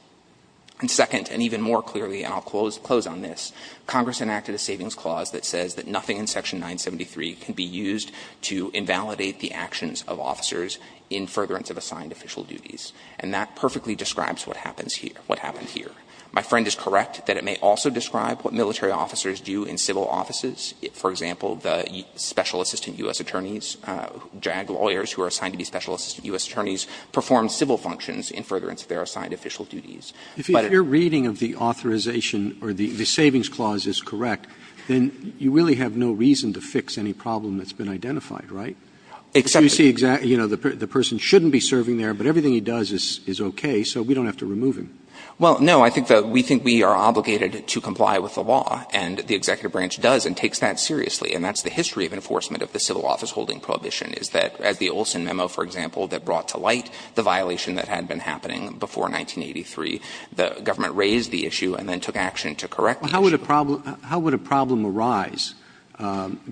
And second, and even more clearly, and I'll close on this, Congress enacted a savings clause that says that nothing in section 973 can be used to invalidate the actions of officers in furtherance of assigned official duties. And that perfectly describes what happens here, what happened here. My friend is correct that it may also describe what military officers do in civil offices. For example, the Special Assistant U.S. Attorneys, JAG lawyers who are assigned to be Special Assistant U.S. Attorneys, perform civil functions in furtherance of their assigned official duties. But if your reading of the authorization or the savings clause is correct, then you really have no reason to fix any problem that's been identified, right? Except that you see, you know, the person shouldn't be serving there, but everything he does is okay, so we don't have to remove him. Well, no. I think that we think we are obligated to comply with the law, and the executive branch does and takes that seriously. And that's the history of enforcement of the civil office holding prohibition, is that as the Olson memo, for example, that brought to light the violation that had been happening before 1983, the government raised the issue and then took action to correct the issue. But how would a problem arise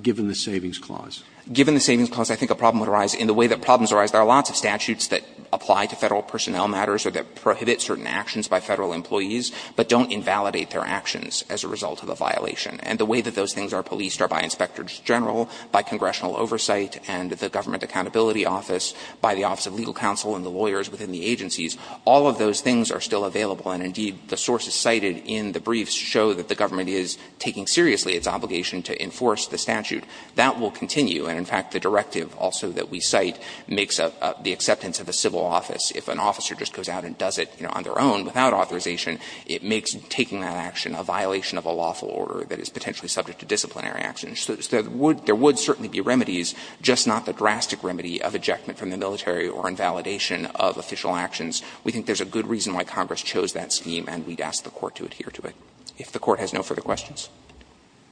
given the savings clause? Given the savings clause, I think a problem would arise in the way that problems arise. There are lots of statutes that apply to Federal personnel matters or that prohibit certain actions by Federal employees, but don't invalidate their actions as a result of a violation. And the way that those things are policed are by Inspectors General, by Congressional Oversight, and the Government Accountability Office, by the Office of Legal Counsel and the lawyers within the agencies. All of those things are still available, and indeed, the sources cited in the briefs show that the government is taking seriously its obligation to enforce the statute. That will continue, and in fact, the directive also that we cite makes the acceptance of the civil office. If an officer just goes out and does it, you know, on their own, without authorization, it makes taking that action a violation of a lawful order that is potentially subject to disciplinary action. So there would certainly be remedies, just not the drastic remedy of ejectment from the military or invalidation of official actions. We think there's a good reason why Congress chose that scheme, and we'd ask the Court to adhere to it. If the Court has no further questions. Roberts.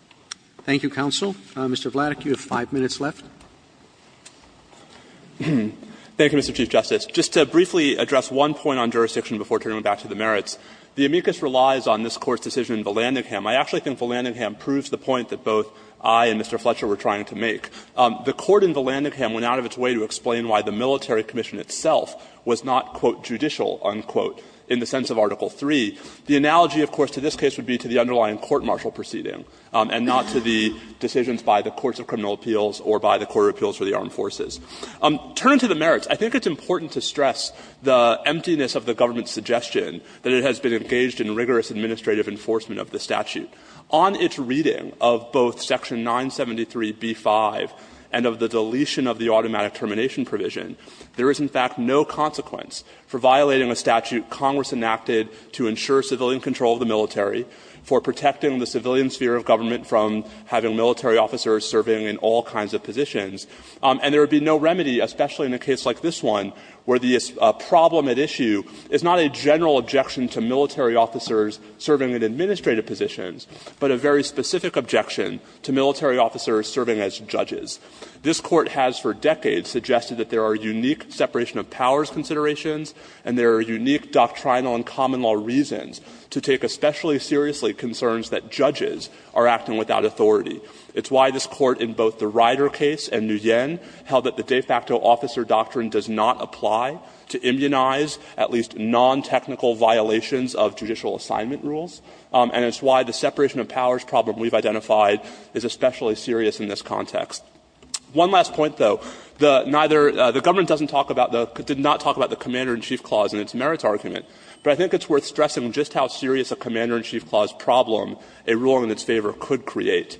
Roberts. Thank you, counsel. Mr. Vladeck, you have 5 minutes left. Vladeck. Thank you, Mr. Chief Justice. Just to briefly address one point on jurisdiction before turning back to the merits. The amicus relies on this Court's decision in Vallandigham. I actually think Vallandigham proves the point that both I and Mr. Fletcher were trying to make. The Court in Vallandigham went out of its way to explain why the military commission itself was not, quote, judicial, unquote, in the sense of Article III. The analogy, of course, to this case would be to the underlying court-martial proceeding and not to the decisions by the courts of criminal appeals or by the court of appeals for the armed forces. Turning to the merits, I think it's important to stress the emptiness of the government's suggestion that it has been engaged in rigorous administrative enforcement of the statute. On its reading of both Section 973b-5 and of the deletion of the automatic termination provision, there is, in fact, no consequence for violating a statute Congress enacted to ensure civilian control of the military, for protecting the civilian sphere of government from having military officers serving in all kinds of positions. And there would be no remedy, especially in a case like this one, where the problem at issue is not a general objection to military officers serving in administrative positions, but a very specific objection to military officers serving as judges. This Court has for decades suggested that there are unique separation of powers considerations and there are unique doctrinal and common law reasons to take especially seriously concerns that judges are acting without authority. It's why this Court in both the Ryder case and Nguyen held that the de facto officer doctrine does not apply to immunize at least nontechnical violations of judicial assignment rules, and it's why the separation of powers problem we've identified is especially serious in this context. One last point, though. The neither the government doesn't talk about the did not talk about the Commander in Chief Clause in its merits argument, but I think it's worth stressing just how serious a Commander in Chief Clause problem a ruling in its favor could create.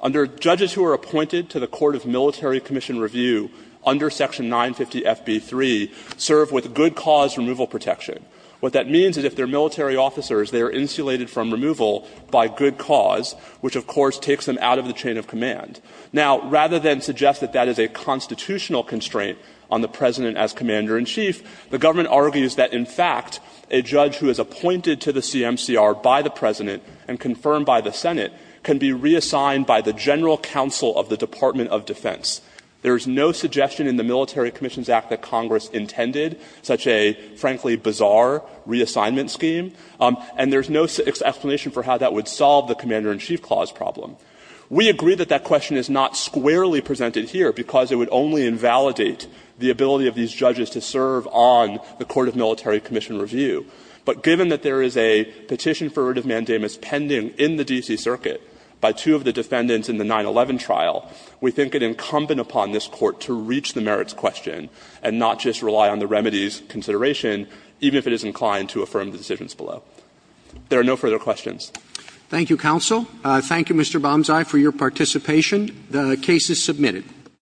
Under judges who are appointed to the court of military commission review under section 950FB3 serve with good cause removal protection. What that means is if they are military officers, they are insulated from removal by good cause, which of course takes them out of the chain of command. Now, rather than suggest that that is a constitutional constraint on the President as Commander in Chief, the government argues that in fact a judge who is appointed to the CMCR by the President and confirmed by the Senate can be reassigned by the general counsel of the Department of Defense. There is no suggestion in the Military Commissions Act that Congress intended such a, frankly, bizarre reassignment scheme, and there's no explanation for how that would solve the Commander in Chief Clause problem. We agree that that question is not squarely presented here because it would only invalidate the ability of these judges to serve on the court of military commission review. But given that there is a petition for writ of mandamus pending in the D.C. Circuit by two of the defendants in the 9-11 trial, we think it incumbent upon this Court to reach the merits question and not just rely on the remedies consideration, even if it is inclined to affirm the decisions below. There are no further questions. Roberts. Thank you, Counsel. Thank you, Mr. Banzai, for your participation. The case is submitted.